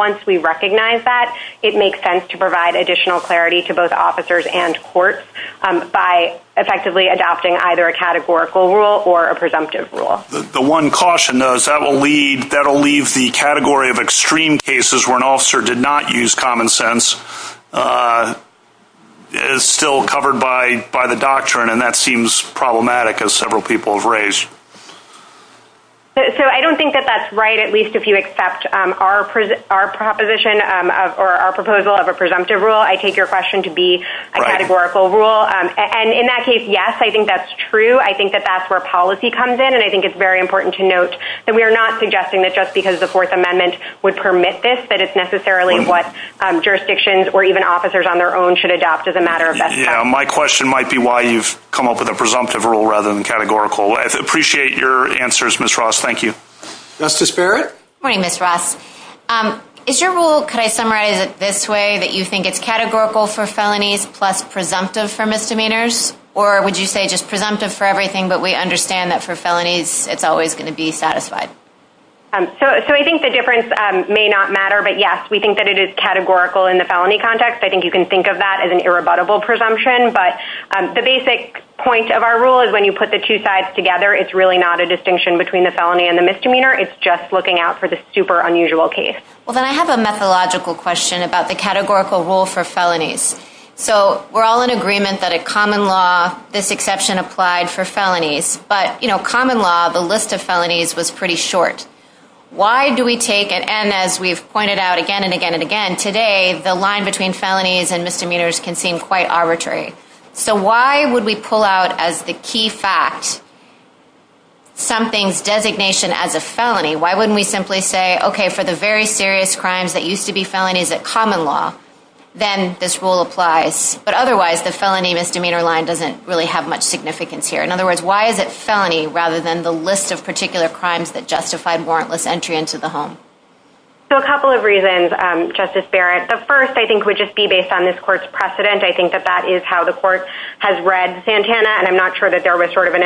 Once we recognize that, it makes sense to provide additional clarity to officers and courts by adopting a categorical rule or a presumptive rule. The one caution is that will leave the category of extreme cases where an officer did not use common sense is still covered by the doctrine and that seems problematic as several people have raised. I don't think that's right, at least if you accept our doctrine correct. The absence of any exception that covers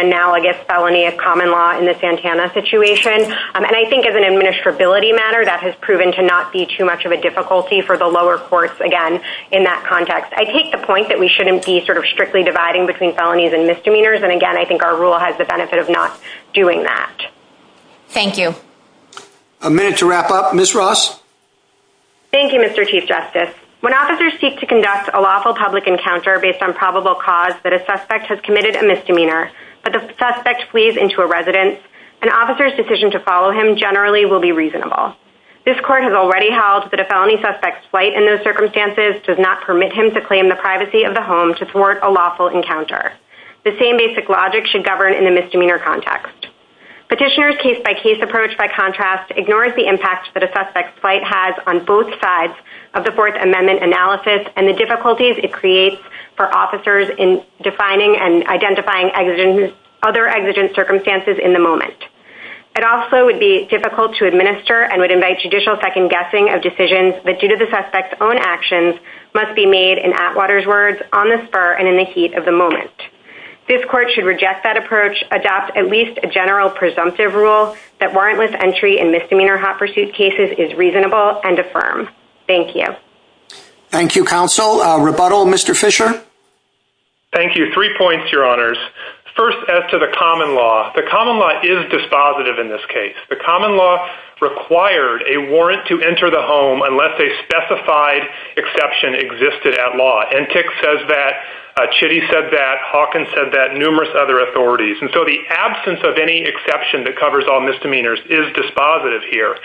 all misdemeanors is dispositive here.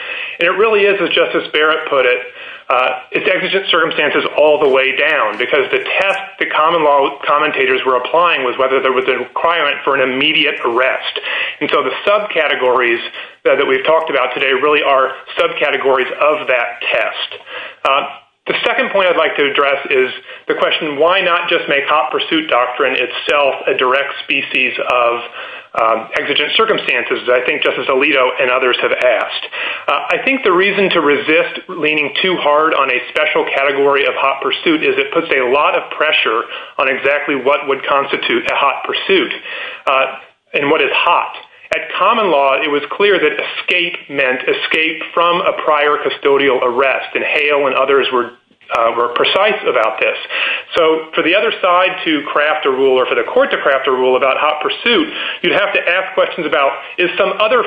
It's exigent circumstances all the way down. The test the commentators were applying was whether there was an immediate arrest. The subcategories that we talked about today are subcategories of that test. The second point is the question why not make hot pursuit a direct species of exigent circumstances. I think the reason to resist leaning too hard is it puts a lot of pressure on what constitutes a hot pursuit and what is hot. At common law it was clear that escape meant escape from a prior arrest. For the other side to craft a rule about hot pursuit, you have to ask questions about is some hot pursuit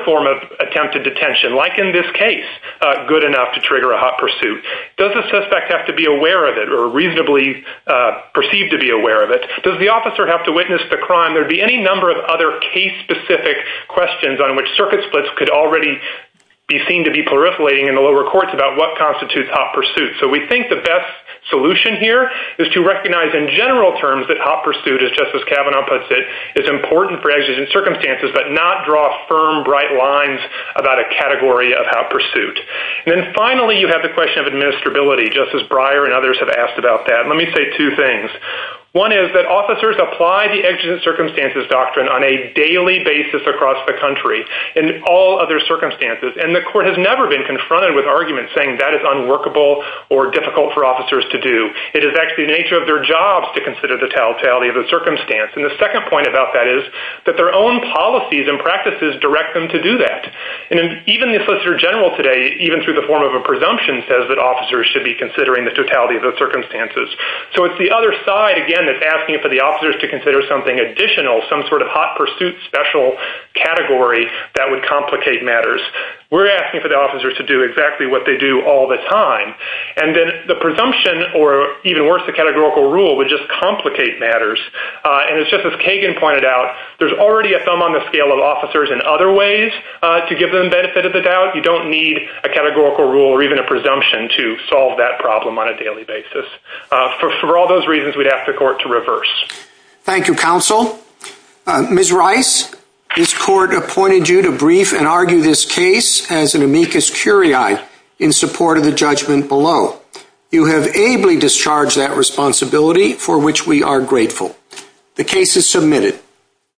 specific category that would complicate matters. We're asking the officers to do what they do all the time. The presumption would complicate matters. There's already a thumb on the scale of officers in other ways. You don't need a categorical rule to solve that problem on a daily basis. For all those reasons we ask the court to reverse. Thank you counsel. Ms. Rice, this court appointed you to argue this case in support of the judgment below. You have ably discharged that We are grateful. The case is submitted.